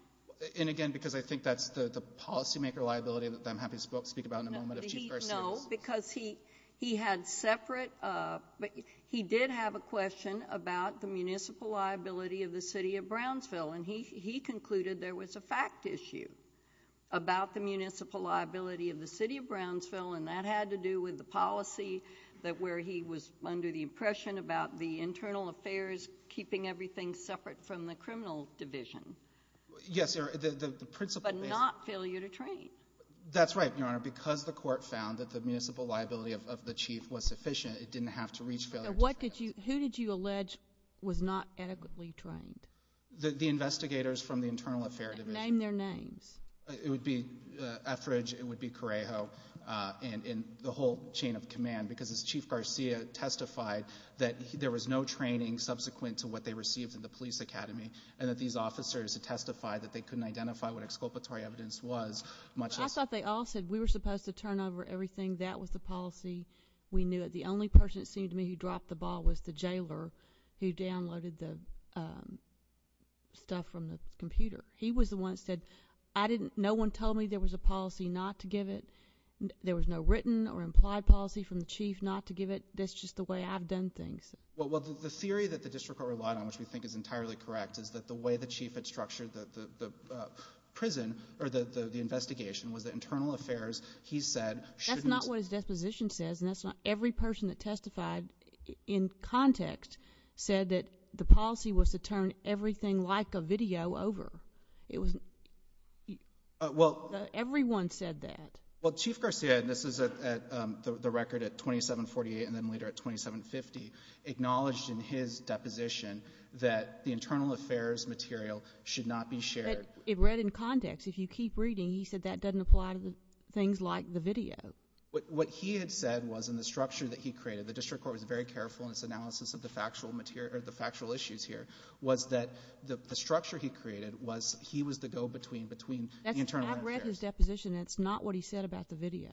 And again, because I think that's the policymaker liability that I'm happy to speak about in a moment if Chief Garcia... No, because he had separate, he did have a question about the municipal liability of the city of Brownsville. And he concluded there was a fact issue about the municipal liability of the city of Brownsville and that had to do with the policy that where he was under the impression about the internal affairs keeping everything separate from the criminal division. Yes, the principle... But not failure to train. That's right, Your Honor. Because the court found that the municipal liability of the chief was sufficient, it didn't have to reach failure to train. What did you, who did you allege was not adequately trained? The investigators from the internal affairs division. Name their names. It would be Etheridge, it would be Correjo, and the whole chain of command because as Chief Garcia testified that there was no training subsequent to what they received from the police academy and that these officers had testified that they couldn't identify what exculpatory evidence was much... I thought they all said we were supposed to turn over everything. That was the policy. We knew it. The only person it seemed to me who dropped the ball was the jailer who downloaded the stuff from the computer. He was the one that said, I didn't... No one told me there was a policy not to give it. There was no written or implied policy from the chief not to give it. That's just the way I've done things. Well, the theory that the district court relied on, which we think is entirely correct, is that the way the chief had structured the prison or the investigation was that internal affairs, he said... That's not what his disposition says. Every person that testified in context said that the policy was to turn everything like a video over. Everyone said that. Well, Chief Garcia, and this is the record at 2748 and then later at 2750, acknowledged in his deposition that the internal affairs material should not be shared. It read in context. If you keep reading, he said that doesn't apply to things like the video. What he had said was in the structure that he created, the district court was very careful in its analysis of the factual issues here, was that the structure he created was he was the go-between between the internal affairs... I've read his deposition. That's not what he said about the video.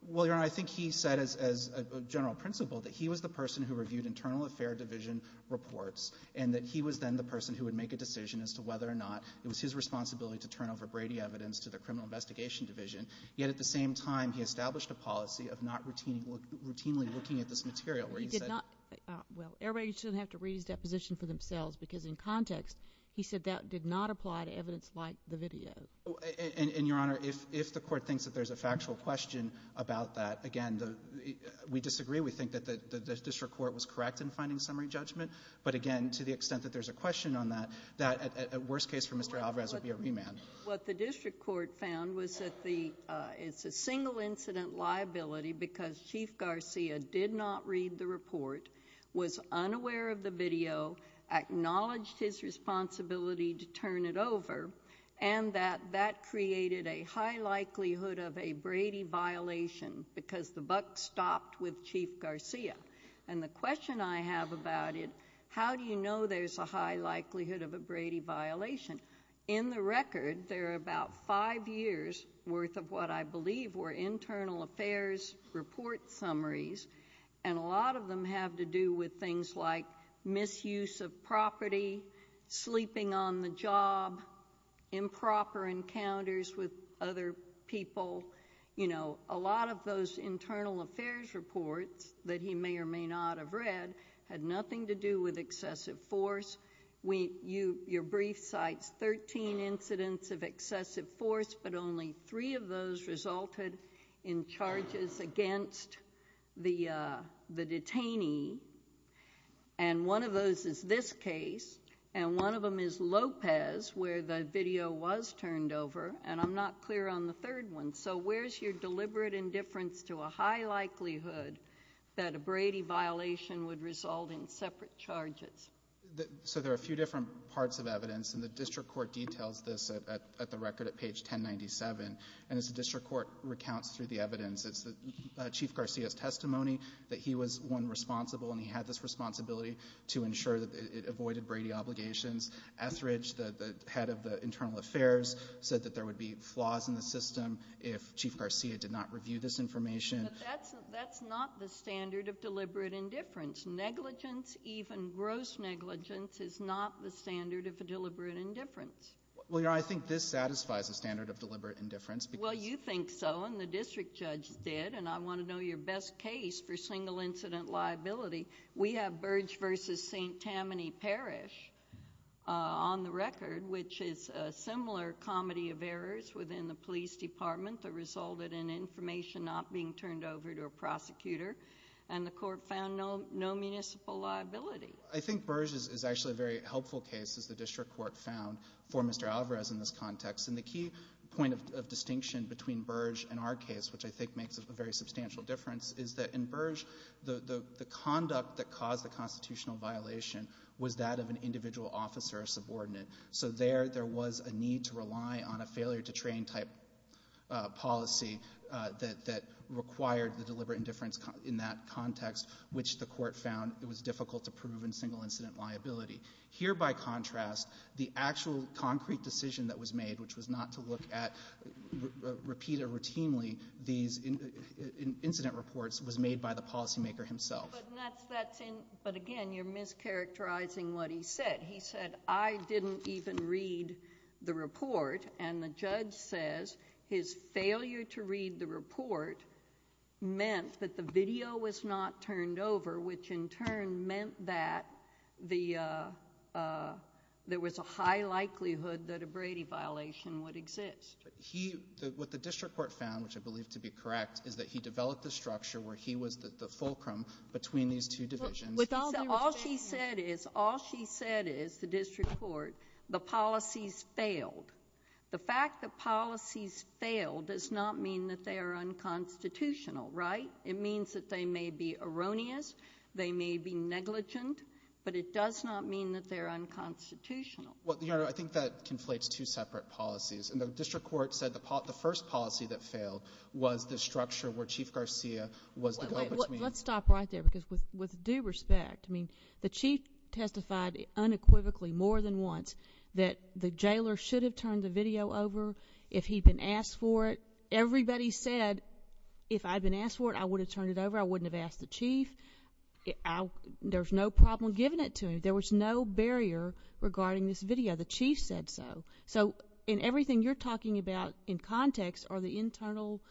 Well, Your Honor, I think he said as a general principle that he was the person who reviewed internal affairs division reports and that he was then the person who would make a decision as to whether or not it was his responsibility to turn over Brady evidence to the criminal investigation division. Yet at the same time, he established a policy of not routinely looking at this material. Well, everybody should have to read that position for themselves because in context, he said that did not apply to evidence like the video. And Your Honor, if the court thinks that there's a factual question about that, again, we disagree. We think that the district court was correct in finding summary judgment. But again, to the extent that there's a question on that, worst case for Mr. Alvarez would be a remand. What the district court found was that it's a single incident liability because Chief Garcia did not read the report, was unaware of the video, acknowledged his responsibility to turn it over, and that that created a high likelihood of a Brady violation because the buck stopped with Chief Garcia. And the question I have about it, how do you know there's a high likelihood of a Brady violation? In the record, there are about five years' worth of what I believe were internal affairs report summaries, and a lot of them have to do with things like misuse of property, sleeping on the job, improper encounters with other people. You know, a lot of those internal affairs reports that he may or may not have read had nothing to do with excessive force. Your brief cites 13 incidents of excessive force, but only three of those resulted in charges against the detainee. And one of those is this case, and one of them is Lopez, where the video was turned over, and I'm not clear on the third one. So where's your deliberate indifference to a high likelihood that a Brady violation would result in separate charges? So there are a few different parts of evidence, and the district court details this at the record at page 1097. And as the district court recounts through the evidence, it's Chief Garcia's testimony that he was, one, responsible, and he had this responsibility to ensure that it avoided Brady obligations. Estridge, the head of the internal affairs, said that there would be flaws in the system if Chief Garcia did not review this information. But that's not the standard of deliberate indifference. Negligence, even gross negligence, is not the standard of a deliberate indifference. Well, Your Honor, I think this satisfies the standard of deliberate indifference. Well, you think so, and the district judge did, and I want to know your best case for single incident liability. We have Burge v. St. Tammany Parish on the record, which is a similar comedy of errors within the police department that resulted in information not being turned over to a prosecutor, and the court found no municipal liability. I think Burge is actually a very helpful case, as the district court found, for Mr. Alvarez in this context. And the key point of distinction between Burge and our case, which I think makes a very substantial difference, is that in Burge, the conduct that caused the constitutional violation was that of an individual officer or subordinate. So there, there was a need to rely on a failure to train type policy that required the deliberate indifference in that context, which the court found it was difficult to prove in single incident liability. Here, by contrast, the actual concrete decision that was made, which was not to look at, repeat it routinely, these incident reports, was made by the policymaker himself. But again, you're mischaracterizing what he said. He said, I didn't even read the report, and the judge says his failure to read the report meant that the video was not turned over, which in turn meant that there was a high likelihood that a Brady violation would exist. What the district court found, which I believe to be correct, is that he developed a structure where he was the fulcrum between these two divisions. But all she said is, all she said is, the district court, the policies failed. The fact that policies failed does not mean that they are unconstitutional, right? It means that they may be erroneous, they may be negligent, but it does not mean that they're unconstitutional. Well, your Honor, I think that conflates two separate policies. And the district court said the first policy that failed was the structure where Chief Garcia was the focus man. Let's stop right there, because with due respect, I mean, the Chief testified unequivocally more than once that the jailer should have turned the video over if he'd been asked for it. Everybody said, if I'd been asked for it, I would have turned it over. I wouldn't have asked the Chief. There's no problem giving it to him. There was no barrier regarding this video. The Chief said so. So in everything you're talking about in context are the internal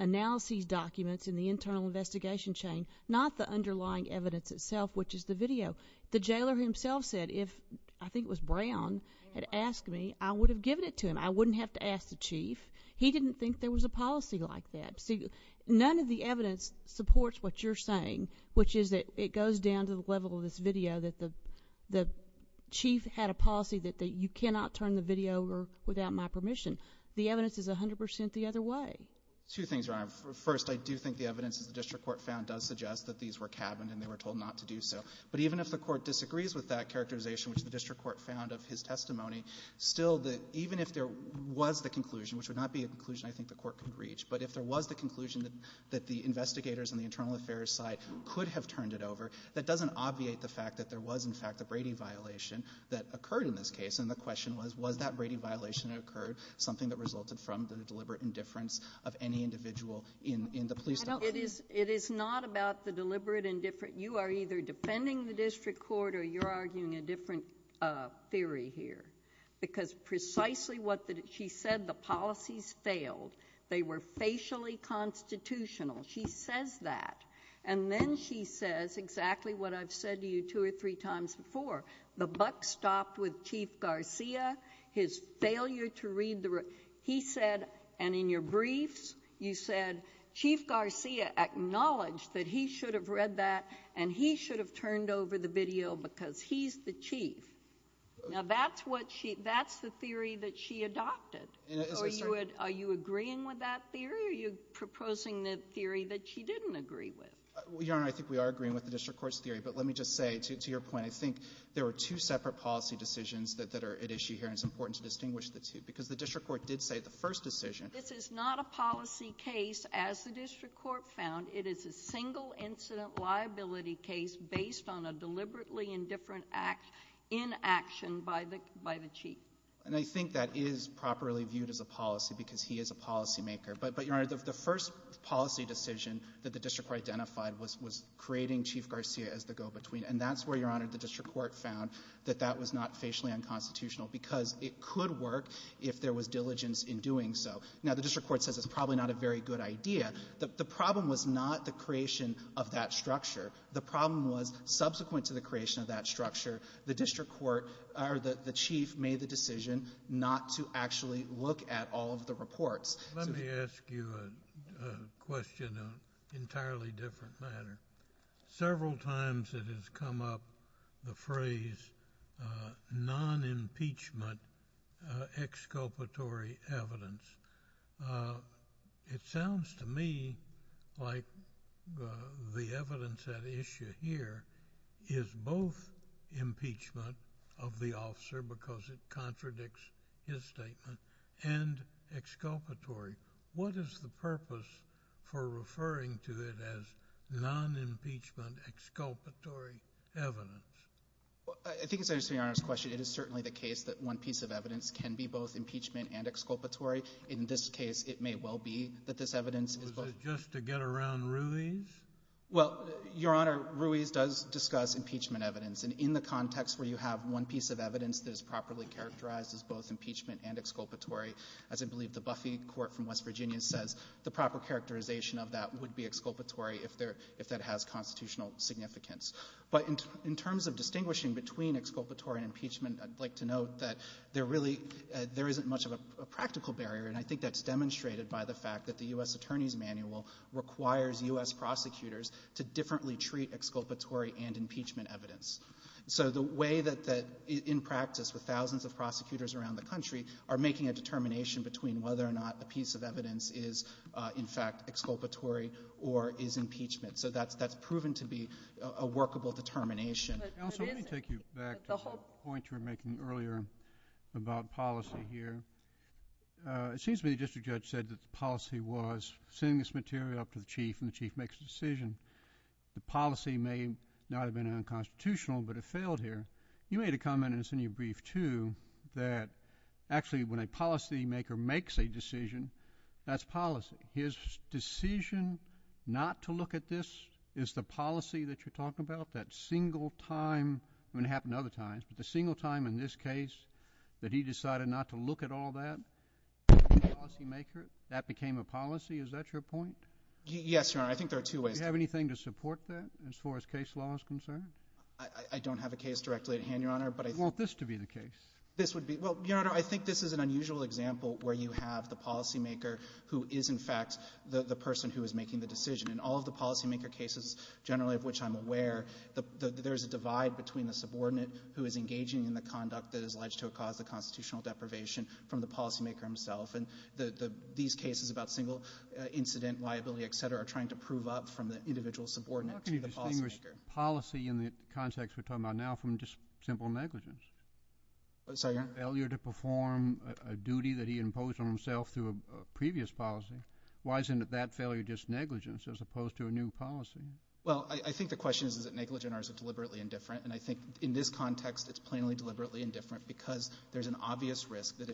analyses documents in the internal investigation chain, not the underlying evidence itself, which is the video. The jailer himself said if, I think it was Brown, had asked me, I would have given it to him. I wouldn't have to ask the Chief. He didn't think there was a policy like that. None of the evidence supports what you're saying, which is that it goes down to the video, that the Chief had a policy that you cannot turn the video over without my permission. The evidence is 100% the other way. Two things, Your Honor. First, I do think the evidence that the district court found does suggest that these were cabins and they were told not to do so. But even if the court disagrees with that characterization, which the district court found of his testimony, still, even if there was the conclusion, which would not be a conclusion I think the court could reach, but if there was the conclusion that the investigators on the internal affairs side could have turned it over, that doesn't obviate the fact that there was, in fact, a Brady violation that occurred in this case. And the question was, was that Brady violation that occurred something that resulted from the deliberate indifference of any individual in the police department? It is not about the deliberate indifference. You are either defending the district court or you're arguing a different theory here. Because precisely what she said, the policies failed. They were facially constitutional. She says that. And then she says exactly what I've said to you two or three times before. The buck stopped with Chief Garcia, his failure to read the – he said – and in your briefs you said, Chief Garcia acknowledged that he should have read that and he should have turned over the video because he's the chief. Now, that's what she – that's the theory that she adopted. Are you agreeing with that theory? Why are you proposing the theory that she didn't agree with? Well, Your Honor, I think we are agreeing with the district court's theory. But let me just say, to your point, I think there were two separate policy decisions that are at issue here and it's important to distinguish the two. Because the district court did say at the first decision – This is not a policy case, as the district court found. It is a single incident liability case based on a deliberately indifferent act in action by the chief. And I think that is properly viewed as a policy because he is a policymaker. But, Your Honor, the first policy decision that the district court identified was creating Chief Garcia as the go-between. And that's where, Your Honor, the district court found that that was not facially unconstitutional because it could work if there was diligence in doing so. Now, the district court says it's probably not a very good idea. The problem was not the creation of that structure. The problem was, subsequent to the creation of that structure, the district court – or the chief made the decision not to actually look at all of the reports. Let me ask you a question in an entirely different manner. Several times it has come up the phrase non-impeachment exculpatory evidence. It sounds to me like the evidence at issue here is both impeachment of the officer because it contradicts his statement and exculpatory. What is the purpose for referring to it as non-impeachment exculpatory evidence? Well, I think it's an interesting question. It is certainly the case that one piece of evidence can be both impeachment and exculpatory. In this case, it may well be that this evidence – Was it just to get around Ruiz? Well, Your Honor, Ruiz does discuss impeachment evidence. In the context where you have one piece of evidence that is properly characterized as both impeachment and exculpatory, as I believe the Buffy Court from West Virginia says, the proper characterization of that would be exculpatory if that has constitutional significance. But in terms of distinguishing between exculpatory and impeachment, I'd like to note that there isn't much of a practical barrier. I think that's demonstrated by the fact that the U.S. Attorney's Manual requires U.S. prosecutors to differently treat exculpatory and impeachment evidence. So the way that, in practice, the thousands of prosecutors around the country are making a determination between whether or not a piece of evidence is, in fact, exculpatory or is impeachment. So that's proven to be a workable determination. Counselor, let me take you back to the point you were making earlier about policy here. It seems to me the district judge said that the policy was send this material up to the chief and the chief makes a decision. The policy may not have been unconstitutional, but it failed here. You made a comment in your brief, too, that actually when a policymaker makes a decision, that's policy. His decision not to look at this is the policy that you're talking about, that single time, and it happened other times, but the single time in this case that he decided not to look at all that as a policymaker, that became a policy. Is that your point? Yes, Your Honor. I think there are two ways. Do you have anything to support that as far as case law is concerned? I don't have a case directly at hand, Your Honor. But I want this to be the case. This would be. Well, Your Honor, I think this is an unusual example where you have the policymaker who is, in fact, the person who is making the decision. And all of the policymaker cases generally of which I'm aware, there's a divide between the subordinate who is engaging in the conduct that is alleged to have caused the constitutional deprivation from the policymaker himself. These cases about single incident liability, etc., are trying to prove up from the individual subordinate to the policymaker. How can you distinguish policy in the context we're talking about now from just simple negligence? I'm sorry, Your Honor? Failure to perform a duty that he imposed on himself through a previous policy. Why isn't that failure just negligence as opposed to a new policy? Well, I think the question is, is it negligent or is it deliberately indifferent? And I think in this context, it's plainly deliberately indifferent because there's an obligation that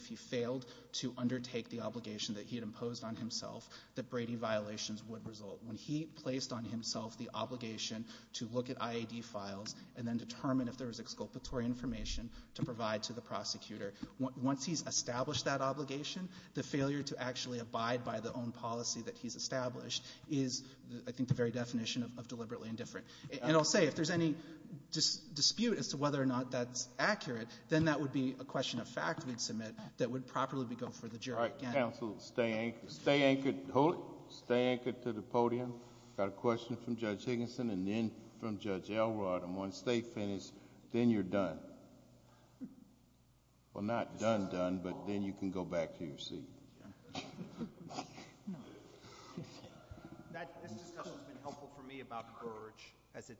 he had imposed on himself that braiding violations would result. When he placed on himself the obligation to look at IAD files and then determine if there was exculpatory information to provide to the prosecutor, once he's established that obligation, the failure to actually abide by the own policy that he's established is, I think, the very definition of deliberately indifferent. And I'll say, if there's any dispute as to whether or not that's accurate, then that would be a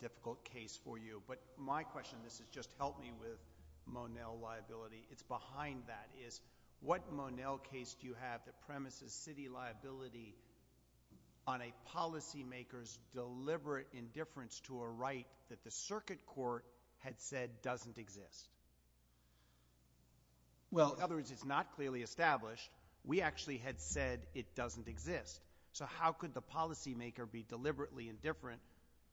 difficult case for you. But my question, this has just helped me with Monell liability, it's behind that, is what Monell case do you have that premises city liability on a policymaker's deliberate indifference to a right that the circuit court had said doesn't exist? Well, in other words, it's not clearly established. We actually had said it doesn't exist. So how could the policymaker be deliberately indifferent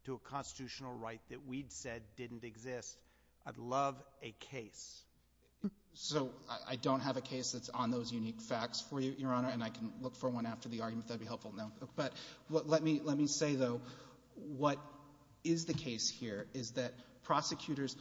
to a constitutional right that we'd said didn't exist? I'd love a case. So I don't have a case that's on those unique facts for you, Your Honor. And I can look for one after the argument. That'd be helpful. No. But let me say, though, what is the case here is that prosecutors,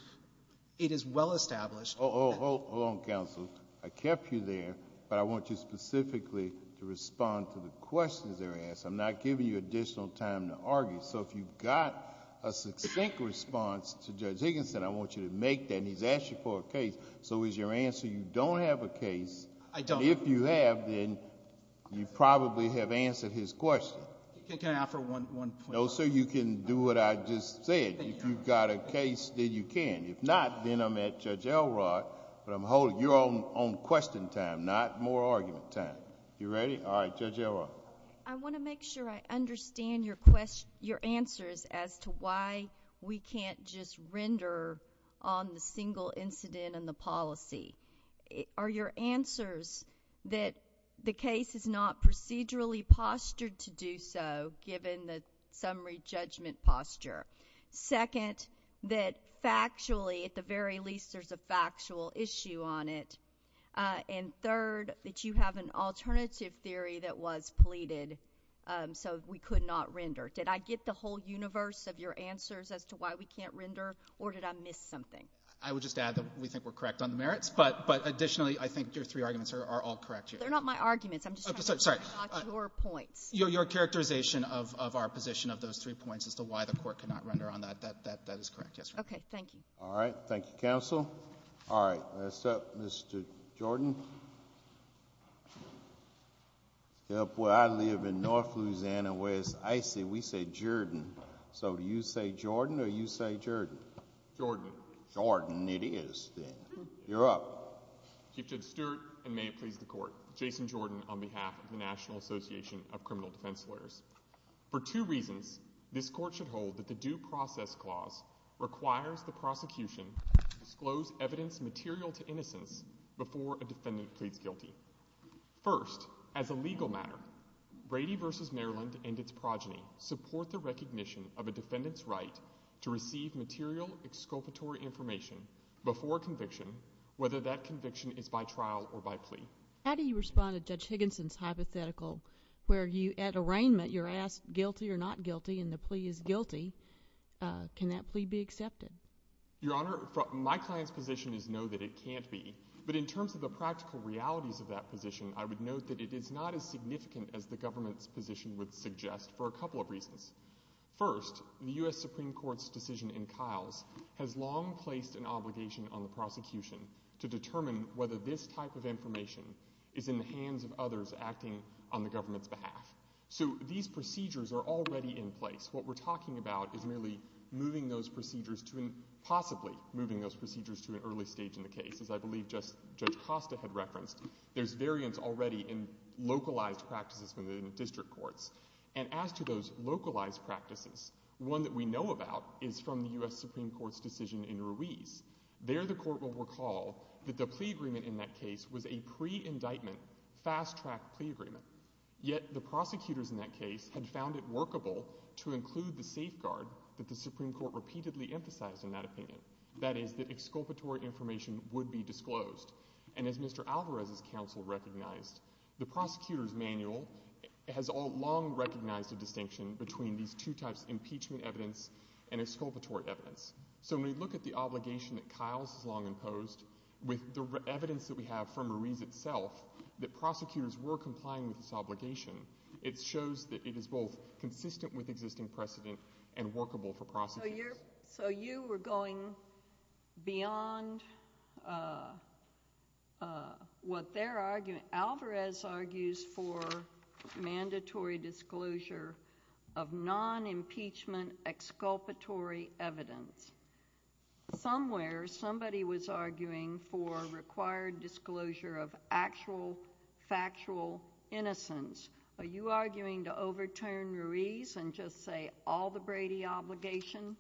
it is well established. Oh, hold on, counsel. I kept you there. But I want you specifically to respond to the questions that are asked. I'm not giving you additional time to argue. So if you've got a succinct response to Judge Higginson, I want you to make that. He's asked you for a case. So is your answer you don't have a case? I don't. If you have, then you probably have answered his question. Can I offer one point? No, sir. You can do what I just said. If you've got a case, then you can. If not, then I'm at Judge Elrod. But I'm holding your own question time, not more argument time. You ready? All right, Judge Elrod. I want to make sure I understand your answer as to why we can't just render on the single incident and the policy. Are your answers that the case is not procedurally postured to do so, given the summary judgment posture? Second, that factually, at the very least, there's a factual issue on it. And third, that you have an alternative theory that was pleaded so we could not render. Did I get the whole universe of your answers as to why we can't render? Or did I miss something? I would just add that we think we're correct on the merits. But additionally, I think your three arguments are all correct here. They're not my arguments. I'm just trying to get your point. Your characterization of our position of those three points as to why the court cannot render on that, that is correct, yes. Okay, thank you. All right. Thank you, counsel. All right. Next up, Mr. Jordan. Well, I live in north Louisiana where it's icy. We say Jordan. So do you say Jordan or you say Jerdan? Jordan. Jordan it is. You're up. Chief Judge Stewart, and may it please the court, Jason Jordan on behalf of the National Association of Criminal Defense Lawyers. For two reasons, this court should hold that the due process clause requires the prosecution to disclose evidence material to innocence before a defendant pleads guilty. First, as a legal matter, Brady v. Maryland and its progeny support the recognition of a defendant's right to receive material exculpatory information before conviction, whether that conviction is by trial or by plea. How do you respond to Judge Higginson's hypothetical where you, at arraignment, you're asked guilty or not guilty and the plea is guilty. Can that plea be accepted? Your Honor, my client's position is no, that it can't be. But in terms of the practical realities of that position, I would note that it is not as significant as the government's position would suggest for a couple of reasons. First, the U.S. Supreme Court's decision in Kiles has long placed an obligation on the prosecution to determine whether this type of information is in the hands of others acting on the government's behalf. So these procedures are already in place. What we're talking about is really moving those procedures to, possibly moving those procedures to an early stage in the case, as I believe Judge Costa had referenced. There's variance already in localized practices within district courts. And as to those localized practices, one that we know about is from the U.S. Supreme Court's decision in Ruiz. There, the court will recall that the plea agreement in that case was a pre-indictment, fast-track plea agreement. Yet the prosecutors in that case had found it workable to include the safeguard that the Supreme Court repeatedly emphasized in that opinion. That is, that exculpatory information would be disclosed. And as Mr. Alvarez's counsel recognized, the prosecutor's manual has long recognized the distinction between these two types of impeachment evidence and exculpatory evidence. So when we look at the obligation that Kiles has long imposed, with the evidence that we have from Ruiz itself, that prosecutors were complying with this obligation, it shows that it is both consistent with existing precedent and workable for prosecution. So you were going beyond what they're arguing. Alvarez argues for mandatory disclosure of non-impeachment exculpatory evidence. Somewhere, somebody was arguing for required disclosure of actual, factual innocence. Are you arguing to overturn Ruiz and just say, all the Brady obligation?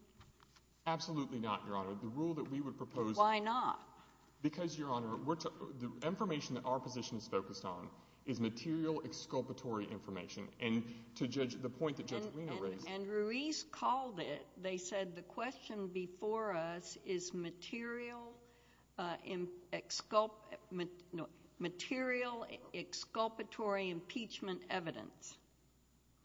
Absolutely not, Your Honor. The rule that we would propose... Why not? Because, Your Honor, the information that our positions focus on is material exculpatory information. And to the point that Judge Weiner raised... And Ruiz called it, they said, the question before us is material exculpatory impeachment evidence.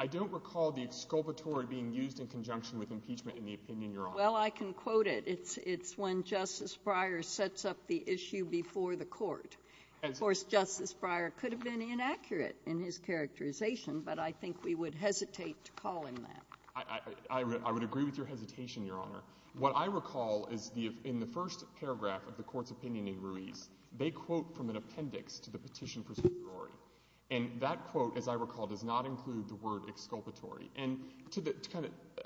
I don't recall the exculpatory being used in conjunction with impeachment in the opinion, Your Honor. Well, I can quote it. It's when Justice Breyer sets up the issue before the court. Of course, Justice Breyer could have been inaccurate in his characterization, but I think we would hesitate to call him that. I would agree with your hesitation, Your Honor. What I recall is, in the first paragraph of the court's opinion in Ruiz, they quote from an appendix to the petition procedure. And that quote, as I recall, does not include the word exculpatory. And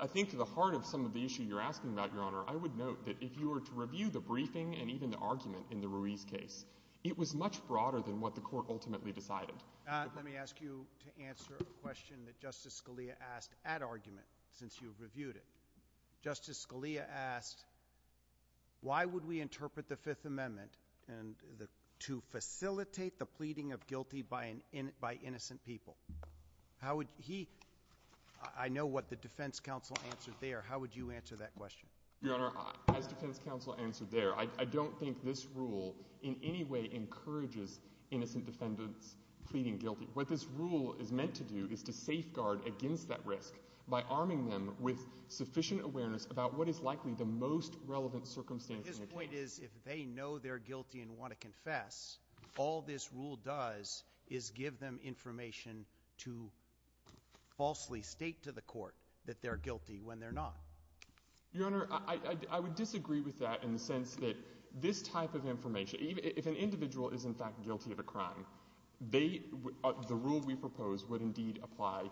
I think to the heart of some of the issue you're asking about, Your Honor, I would note that if you were to review the briefing and even the argument in the Ruiz case, it was much broader than what the court ultimately decided. Let me ask you to answer a question that Justice Scalia asked at argument, since you've reviewed it. Justice Scalia asked, why would we interpret the Fifth Amendment and to facilitate the pleading of guilty by innocent people? I know what the defense counsel answered there. How would you answer that question? Your Honor, I think counsel answered there. I don't think this rule in any way encourages innocent defendants pleading guilty. What this rule is meant to do is to safeguard against that risk by arming them with sufficient awareness about what is likely the most relevant circumstances. If they know they're guilty and want to confess, all this rule does is give them information to falsely state to the court that they're guilty when they're not. Your Honor, I would disagree with that in the sense that this type of information, if an individual is in fact guilty of a crime, the rule we propose would indeed apply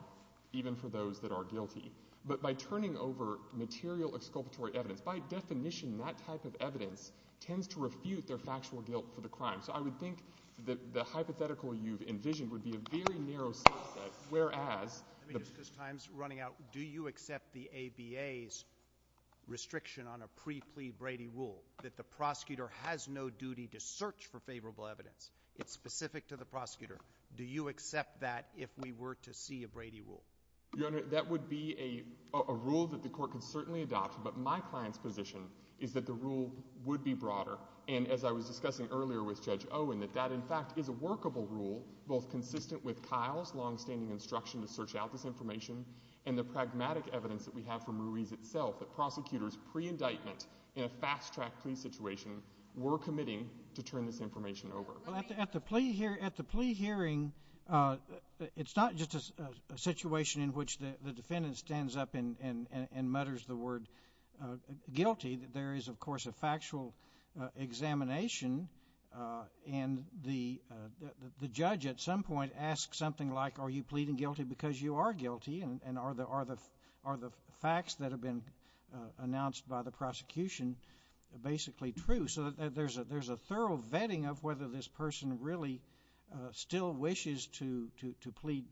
even for those that are guilty. But by turning over material exculpatory evidence, by definition, that type of evidence tends to refute their factual guilt for the crime. So I would think that the hypothetical you've envisioned would be a very narrow scope, whereas... Your Honor, this time's running out. Do you accept the ABA's restriction on a pre-plea Brady rule that the prosecutor has no duty to search for favorable evidence? It's specific to the prosecutor. Do you accept that if we were to see a Brady rule? Your Honor, that would be a rule that the court could certainly adopt. But my client's position is that the rule would be broader. And as I was discussing earlier with Judge Owen, that that, in fact, is a workable rule, both consistent with Kyle's longstanding instruction to search out this information and the pragmatic evidence that we have from Ruiz itself, that prosecutors pre-indictment in a fast-track plea situation were committing to turn this information over. At the plea hearing, it's not just a situation in which the defendant stands up and mutters the word guilty. There is, of course, a factual examination. And the judge, at some point, asks something like, are you pleading guilty because you are guilty? And are the facts that have been announced by the prosecution basically true? So there's a thorough vetting of whether this person really still wishes to plead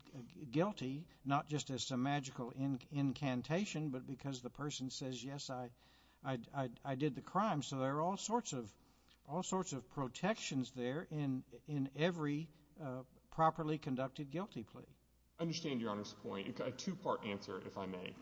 guilty, not just as some magical incantation, but because the person says, yes, I did the crime. So there are all sorts of protections there in every properly conducted guilty plea. I understand Your Honor's point. A two-part answer, if I may.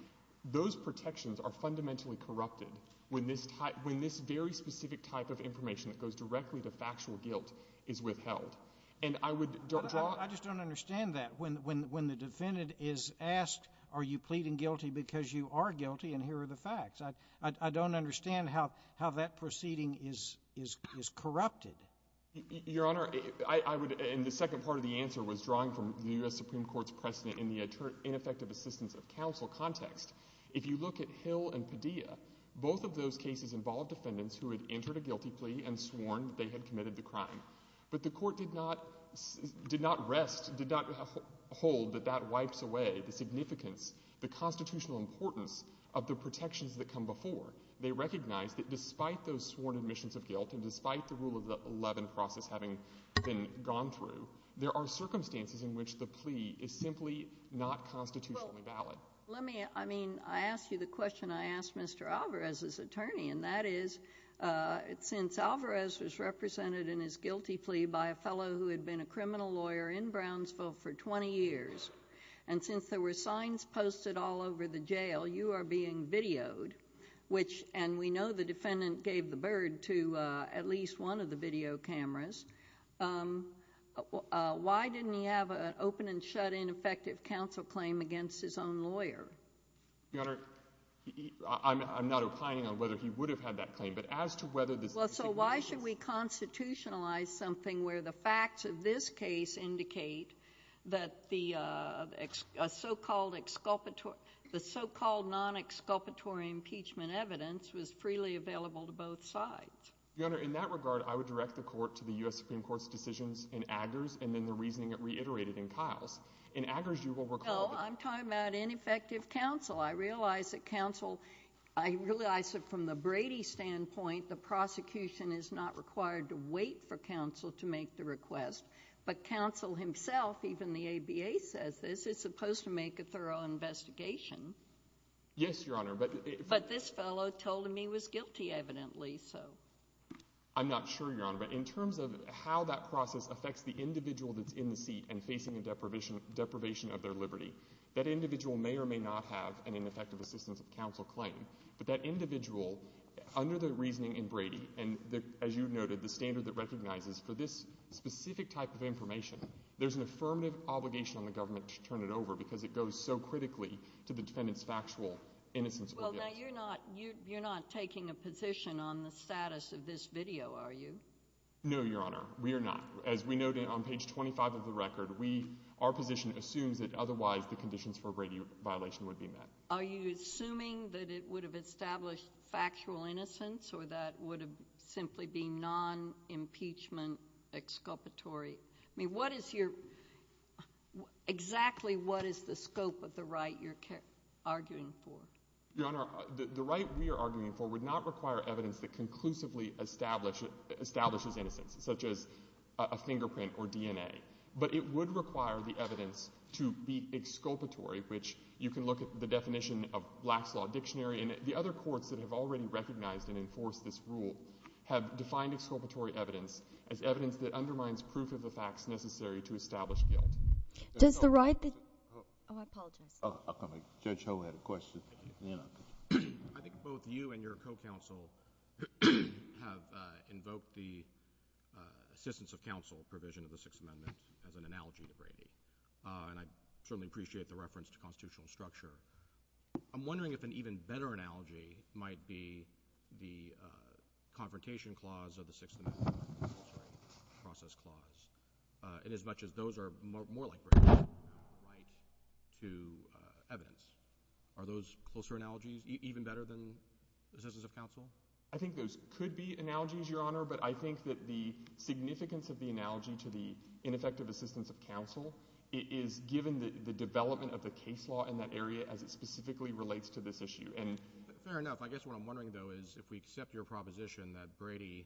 Those protections are fundamentally corrupted when this very specific type of information that goes directly to factual guilt is withheld. And I would draw— I just don't understand that. When the defendant is asked, are you pleading guilty because you are guilty, and here are the facts. I don't understand how that proceeding is corrupted. Your Honor, I would— and the second part of the answer was drawing from the U.S. Supreme Court's precedent in the ineffective assistance of counsel context. If you look at Hill and Padilla, both of those cases involved defendants who had entered a guilty plea and sworn they had committed the crime. But the court did not rest— did not hold that that wipes away the significance, the constitutional importance of the protections that come before. They recognize that despite those sworn admissions of guilt and despite the rule of the Levin process having been gone through, there are circumstances in which the plea is simply not constitutionally valid. Let me— I mean, I asked you the question I asked Mr. Alvarez's attorney, and that is, since Alvarez was represented in his guilty plea by a fellow who had been a criminal lawyer in Brownsville for 20 years, and since there were signs posted all over the jail, you are being videoed, which— and we know the defendant gave the bird to at least one of the video cameras. Why didn't he have an open and shut-in effective counsel claim against his own lawyer? Your Honor, I'm not implying on whether he would have had that claim, but as to whether the— Well, so why should we constitutionalize something where the facts of this case indicate that the so-called exculpatory— the so-called non-exculpatory impeachment evidence was freely available to both sides? Your Honor, in that regard, I would direct the court to the U.S. Supreme Court's decisions in Aggers and then the reasoning reiterated in Kyle's. In Aggers, you will recall— Well, I'm talking about ineffective counsel. I realize that counsel— I realize that from the Brady standpoint, the prosecution is not required to wait for counsel to make the request, but counsel himself, even the ABA says this, is supposed to make a thorough investigation. Yes, Your Honor, but— But this fellow told him he was guilty, evidently, so. I'm not sure, Your Honor, but in terms of how that process affects the individual that's in the seat and facing the deprivation of their liberty, that individual may or may not have an ineffective assistance of counsel claim. But that individual, under the reasoning in Brady, and as you noted, the standard that recognizes for this specific type of information, there's an affirmative obligation on the government to turn it over because it goes so critically to the defendant's factual innocence. Well, now, you're not taking a position on the status of this video, are you? No, Your Honor, we are not. As we noted on page 25 of the record, our position assumes that otherwise the conditions for a Brady violation would be met. Are you assuming that it would have established factual innocence or that it would have simply been non-impeachment exculpatory? I mean, what is your— exactly what is the scope of the right you're arguing for? Your Honor, the right we are arguing for would not require evidence that conclusively establishes anything, such as a fingerprint or DNA. But it would require the evidence to be exculpatory, which you can look at the definition of last-law dictionary, and the other courts that have already recognized and enforced this rule have defined exculpatory evidence as evidence that undermines proof of the facts necessary to establish guilt. Does the right— Oh, I apologize. Oh, I'll come in. Judge Ho had a question. I think both you and your co-counsel have invoked the assistance of counsel provision of the Sixth Amendment as an analogy to Brady, and I certainly appreciate the reference to constitutional structure. I'm wondering if an even better analogy might be the Confrontation Clause or the Sixth Amendment Process Clause, inasmuch as those are more like Brady to evidence. Are those closer analogies, even better than assistance of counsel? I think those could be analogies, Your Honor, but I think that the significance of the analogy to the ineffective assistance of counsel is given the development of the case law in that area as it specifically relates to this issue, and— Fair enough. I guess what I'm wondering, though, is if we accept your proposition that Brady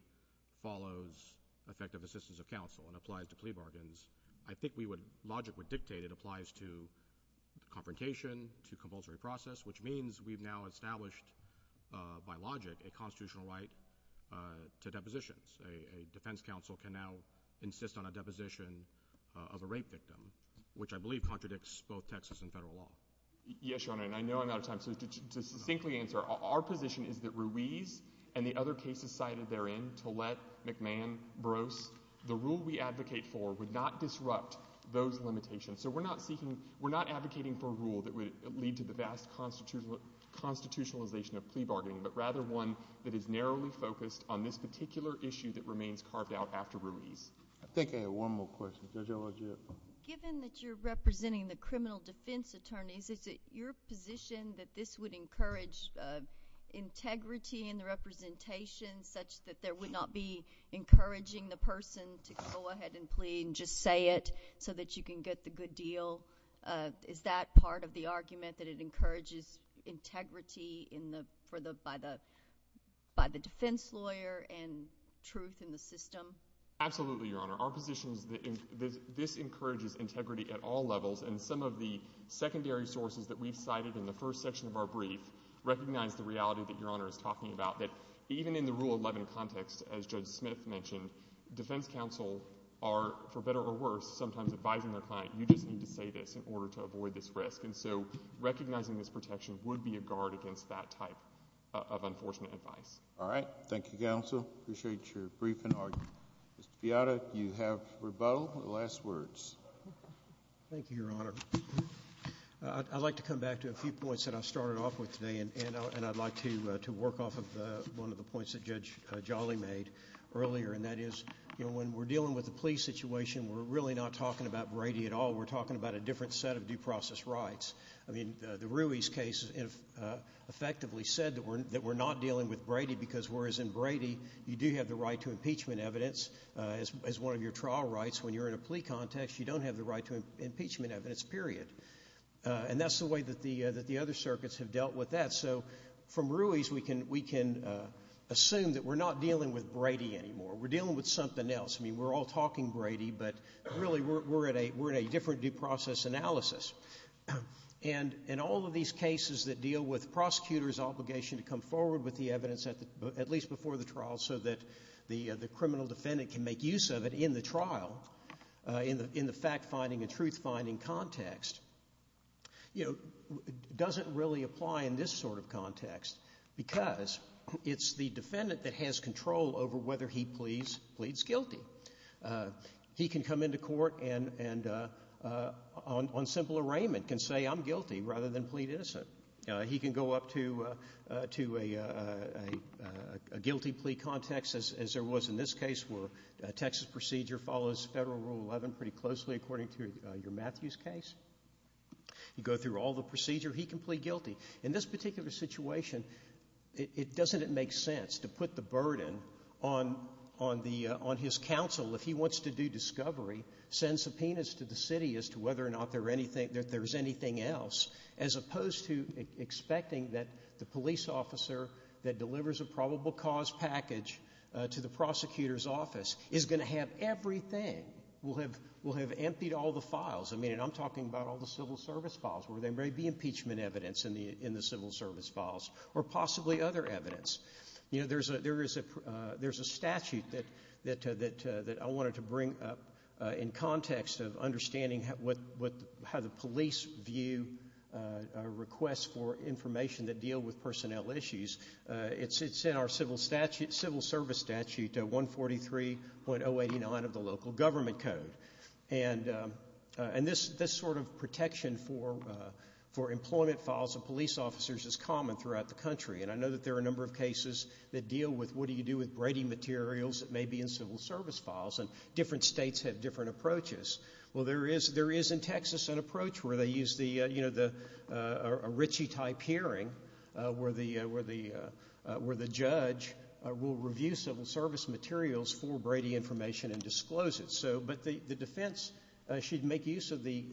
follows effective assistance of counsel and applies to plea bargains, I think we would— logic would dictate it applies to confrontation, to compulsory process, which means we've now established, by logic, a constitutional right to depositions. A defense counsel can now insist on a deposition of a rape victim, which I believe contradicts both Texas and federal law. Yes, Your Honor, and I know I'm out of time, so to distinctly answer, our position is that Ruiz and the other cases cited therein, Tillett, McMahon, Brose, the rule we advocate for would not disrupt those limitations. So we're not seeking— we're not advocating for a rule that would lead to the vast constitutionalization of plea bargaining, but rather one that is narrowly focused on this particular issue that remains carved out after Ruiz. I think I have one more question. Given that you're representing the criminal defense attorneys, is it your position that this would encourage integrity in the representation such that there would not be encouraging the person to go ahead and plea and just say it so that you can get the good deal? Is that part of the argument, that it encourages integrity in the— and truth in the system? Absolutely, Your Honor. Our position is that this encourages integrity at all levels, and some of the secondary sources that we've cited in the first section of our brief recognize the reality that Your Honor is talking about, that even in the Rule 11 context, as Judge Smith mentioned, defense counsel are, for better or worse, sometimes advising their client, you just need to say this in order to avoid this risk. And so recognizing this protection would be a guard against that type of unfortunate incident. All right. Thank you, Counsel. Appreciate your brief and argument. Ms. Piatta, you have rebuttal. Last words. Thank you, Your Honor. I'd like to come back to a few points that I started off with today, and I'd like to work off of one of the points that Judge Jolly made earlier, and that is, you know, when we're dealing with the police situation, we're really not talking about Brady at all. We're talking about a different set of due process rights. I mean, the Ruiz case effectively said that we're not dealing with Brady because whereas in Brady, you do have the right to impeachment evidence as one of your trial rights when you're in a plea context, you don't have the right to impeachment evidence, period. And that's the way that the other circuits have dealt with that. So from Ruiz, we can assume that we're not dealing with Brady anymore. We're dealing with something else. I mean, we're all talking Brady, but really we're in a different due process analysis. And in all of these cases that deal with prosecutors' obligation to come forward with the evidence at least before the trial so that the criminal defendant can make use of it in the trial, in the fact-finding and truth-finding context, you know, doesn't really apply in this sort of context because it's the defendant that has control over whether he pleads guilty. He can come into court and on simple arraignment can say, I'm guilty rather than plead innocent. He can go up to a guilty plea context as there was in this case where a Texas procedure follows Federal Rule 11 pretty closely according to your Matthews case. You go through all the procedure, he can plead guilty. In this particular situation, doesn't it make sense to put the burden on his counsel if he wants to do discovery, send subpoenas to the city as to whether or not there's anything else as opposed to expecting that the police officer that delivers a probable cause package to the prosecutor's office is going to have everything, will have emptied all the files. I mean, and I'm talking about all the civil service files where there may be impeachment evidence in the civil service files or possibly other evidence. You know, there's a statute that I wanted to bring up in context of understanding how the police view a request for information that deal with personnel issues. It's in our civil service statute, 143.089 of the local government code. And this sort of protection for employment files of police officers is common throughout the country. And I know that there are a number of cases that deal with what do you do with grading materials that may be in civil service files and different states have different approaches. Well, there is in Texas an approach where they use a Ritchie-type hearing where the judge will review civil service materials for Brady information and disclose it. So, but the defense should make use of the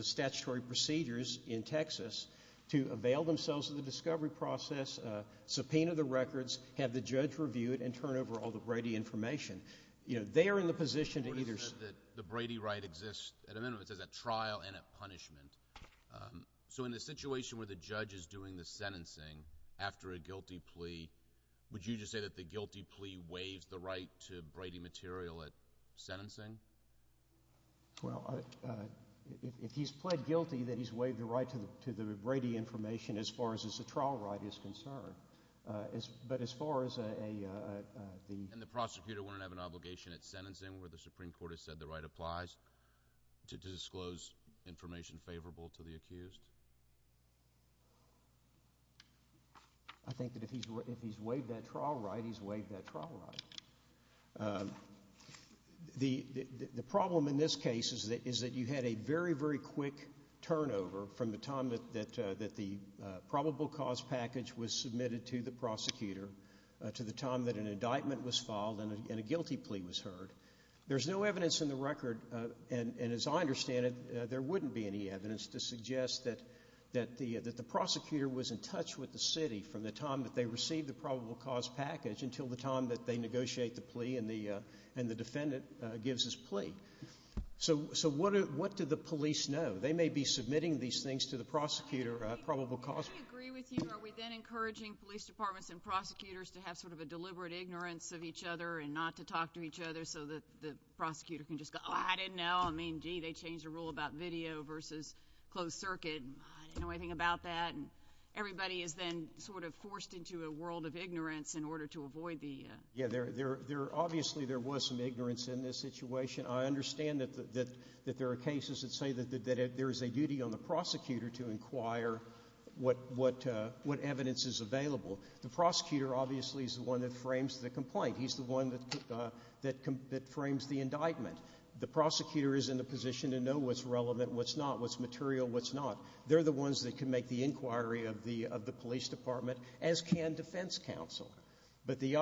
statutory procedures in Texas to avail themselves of the discovery process, subpoena the records, have the judge review it and turn over all the Brady information. You know, they are in the position The Brady right exists at a minimum of a trial and a punishment. So in the situation where the judge is doing the sentencing after a guilty plea, would you just say that the guilty plea waives the right to Brady material at sentencing? Well, if he's pled guilty, then he's waived the right to the Brady information as far as the trial right is concerned. But as far as a... And the prosecutor wouldn't have an obligation at sentencing where the Supreme Court has said the right applies to disclose information favorable to the accused? I think that if he's waived that trial right, he's waived that trial right. The problem in this case is that you had a very, very quick turnover from the time that the probable cause package was submitted to the prosecutor to the time that an indictment was filed and a guilty plea was heard. There's no evidence in the record, and as I understand it, there wouldn't be any evidence to suggest that the prosecutor was in touch with the city from the time that they received the probable cause package until the time that they negotiate the plea and the defendant gives his plea. So what do the police know? They may be submitting these things to the prosecutor, probable cause... I agree with you. Are we then encouraging police departments and prosecutors to have sort of a deliberate ignorance of each other and not to talk to each other so that the prosecutor can just go, oh, I didn't know. I mean, gee, they changed the rule about video versus closed circuit, and I didn't know anything about that. And everybody is then sort of forced into a world of ignorance in order to avoid the... Yeah, obviously there was some ignorance in this situation. I understand that there are cases that say that there is a duty on the prosecutor to inquire what evidence is available. The prosecutor obviously is the one that frames the complaint. He's the one that frames the indictment. The prosecutor is in a position to know what's relevant, what's not, what's material, what's not. They're the ones that can make the inquiry of the police department, as can defense counsel. But the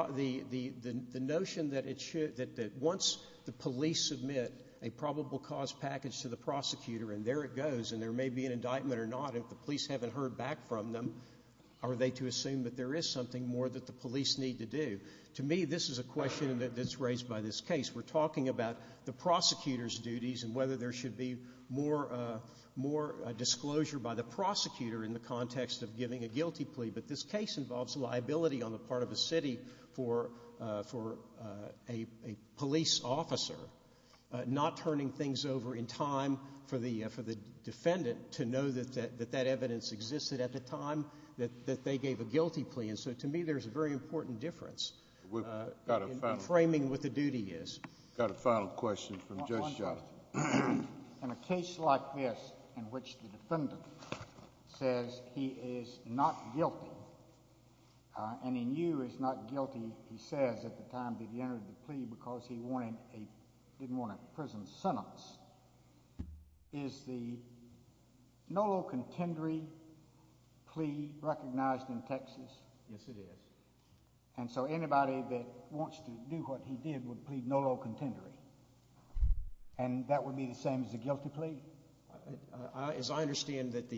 notion that once the police submit a probable cause package to the prosecutor and there it goes and there may be an indictment or not, if the police haven't heard back from them, are they to assume that there is something more that the police need to do? To me, this is a question that's raised by this case. We're talking about the prosecutor's duties and whether there should be more disclosure by the prosecutor in the context of giving a guilty plea. But this case involves liability on the part of the city for a police officer not turning things over in time for the defendant to know that that evidence existed at the time that they gave a guilty plea. To me, there's a very important difference in framing what the duty is. Got a final question from Judge John. In a case like this, in which the defendant says he is not guilty and he knew he was not guilty, he says, at the time that he entered the plea because he didn't want a prison sentence, is the Nolo Contendere plea recognized in Texas as a guilty plea? Yes, it is. And so anybody that wants to do what he did would plead Nolo Contendere. And that would be the same as a guilty plea? As I understand it,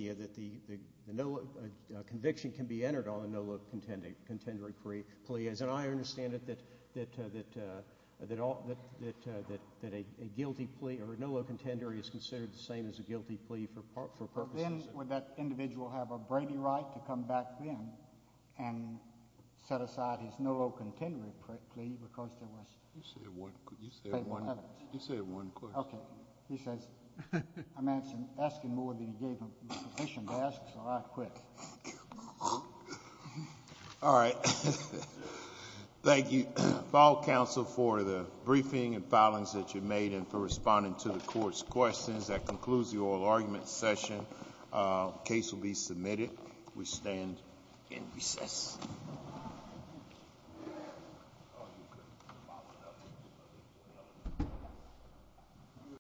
conviction can be entered on a Nolo Contendere plea. As I understand it, that a guilty plea, or a Nolo Contendere is considered the same as a guilty plea for purposes of... Then would that individual have a Brady right to come back then and set aside his Nolo Contendere plea because there was... You said one question. Okay. He says... I'm asking more of you to give sufficient answers. All right, quick. All right. Thank you, file counsel, for the briefing and filings that you made and for responding to the court's questions. That concludes the oral argument session. Case will be submitted. We stand in recess.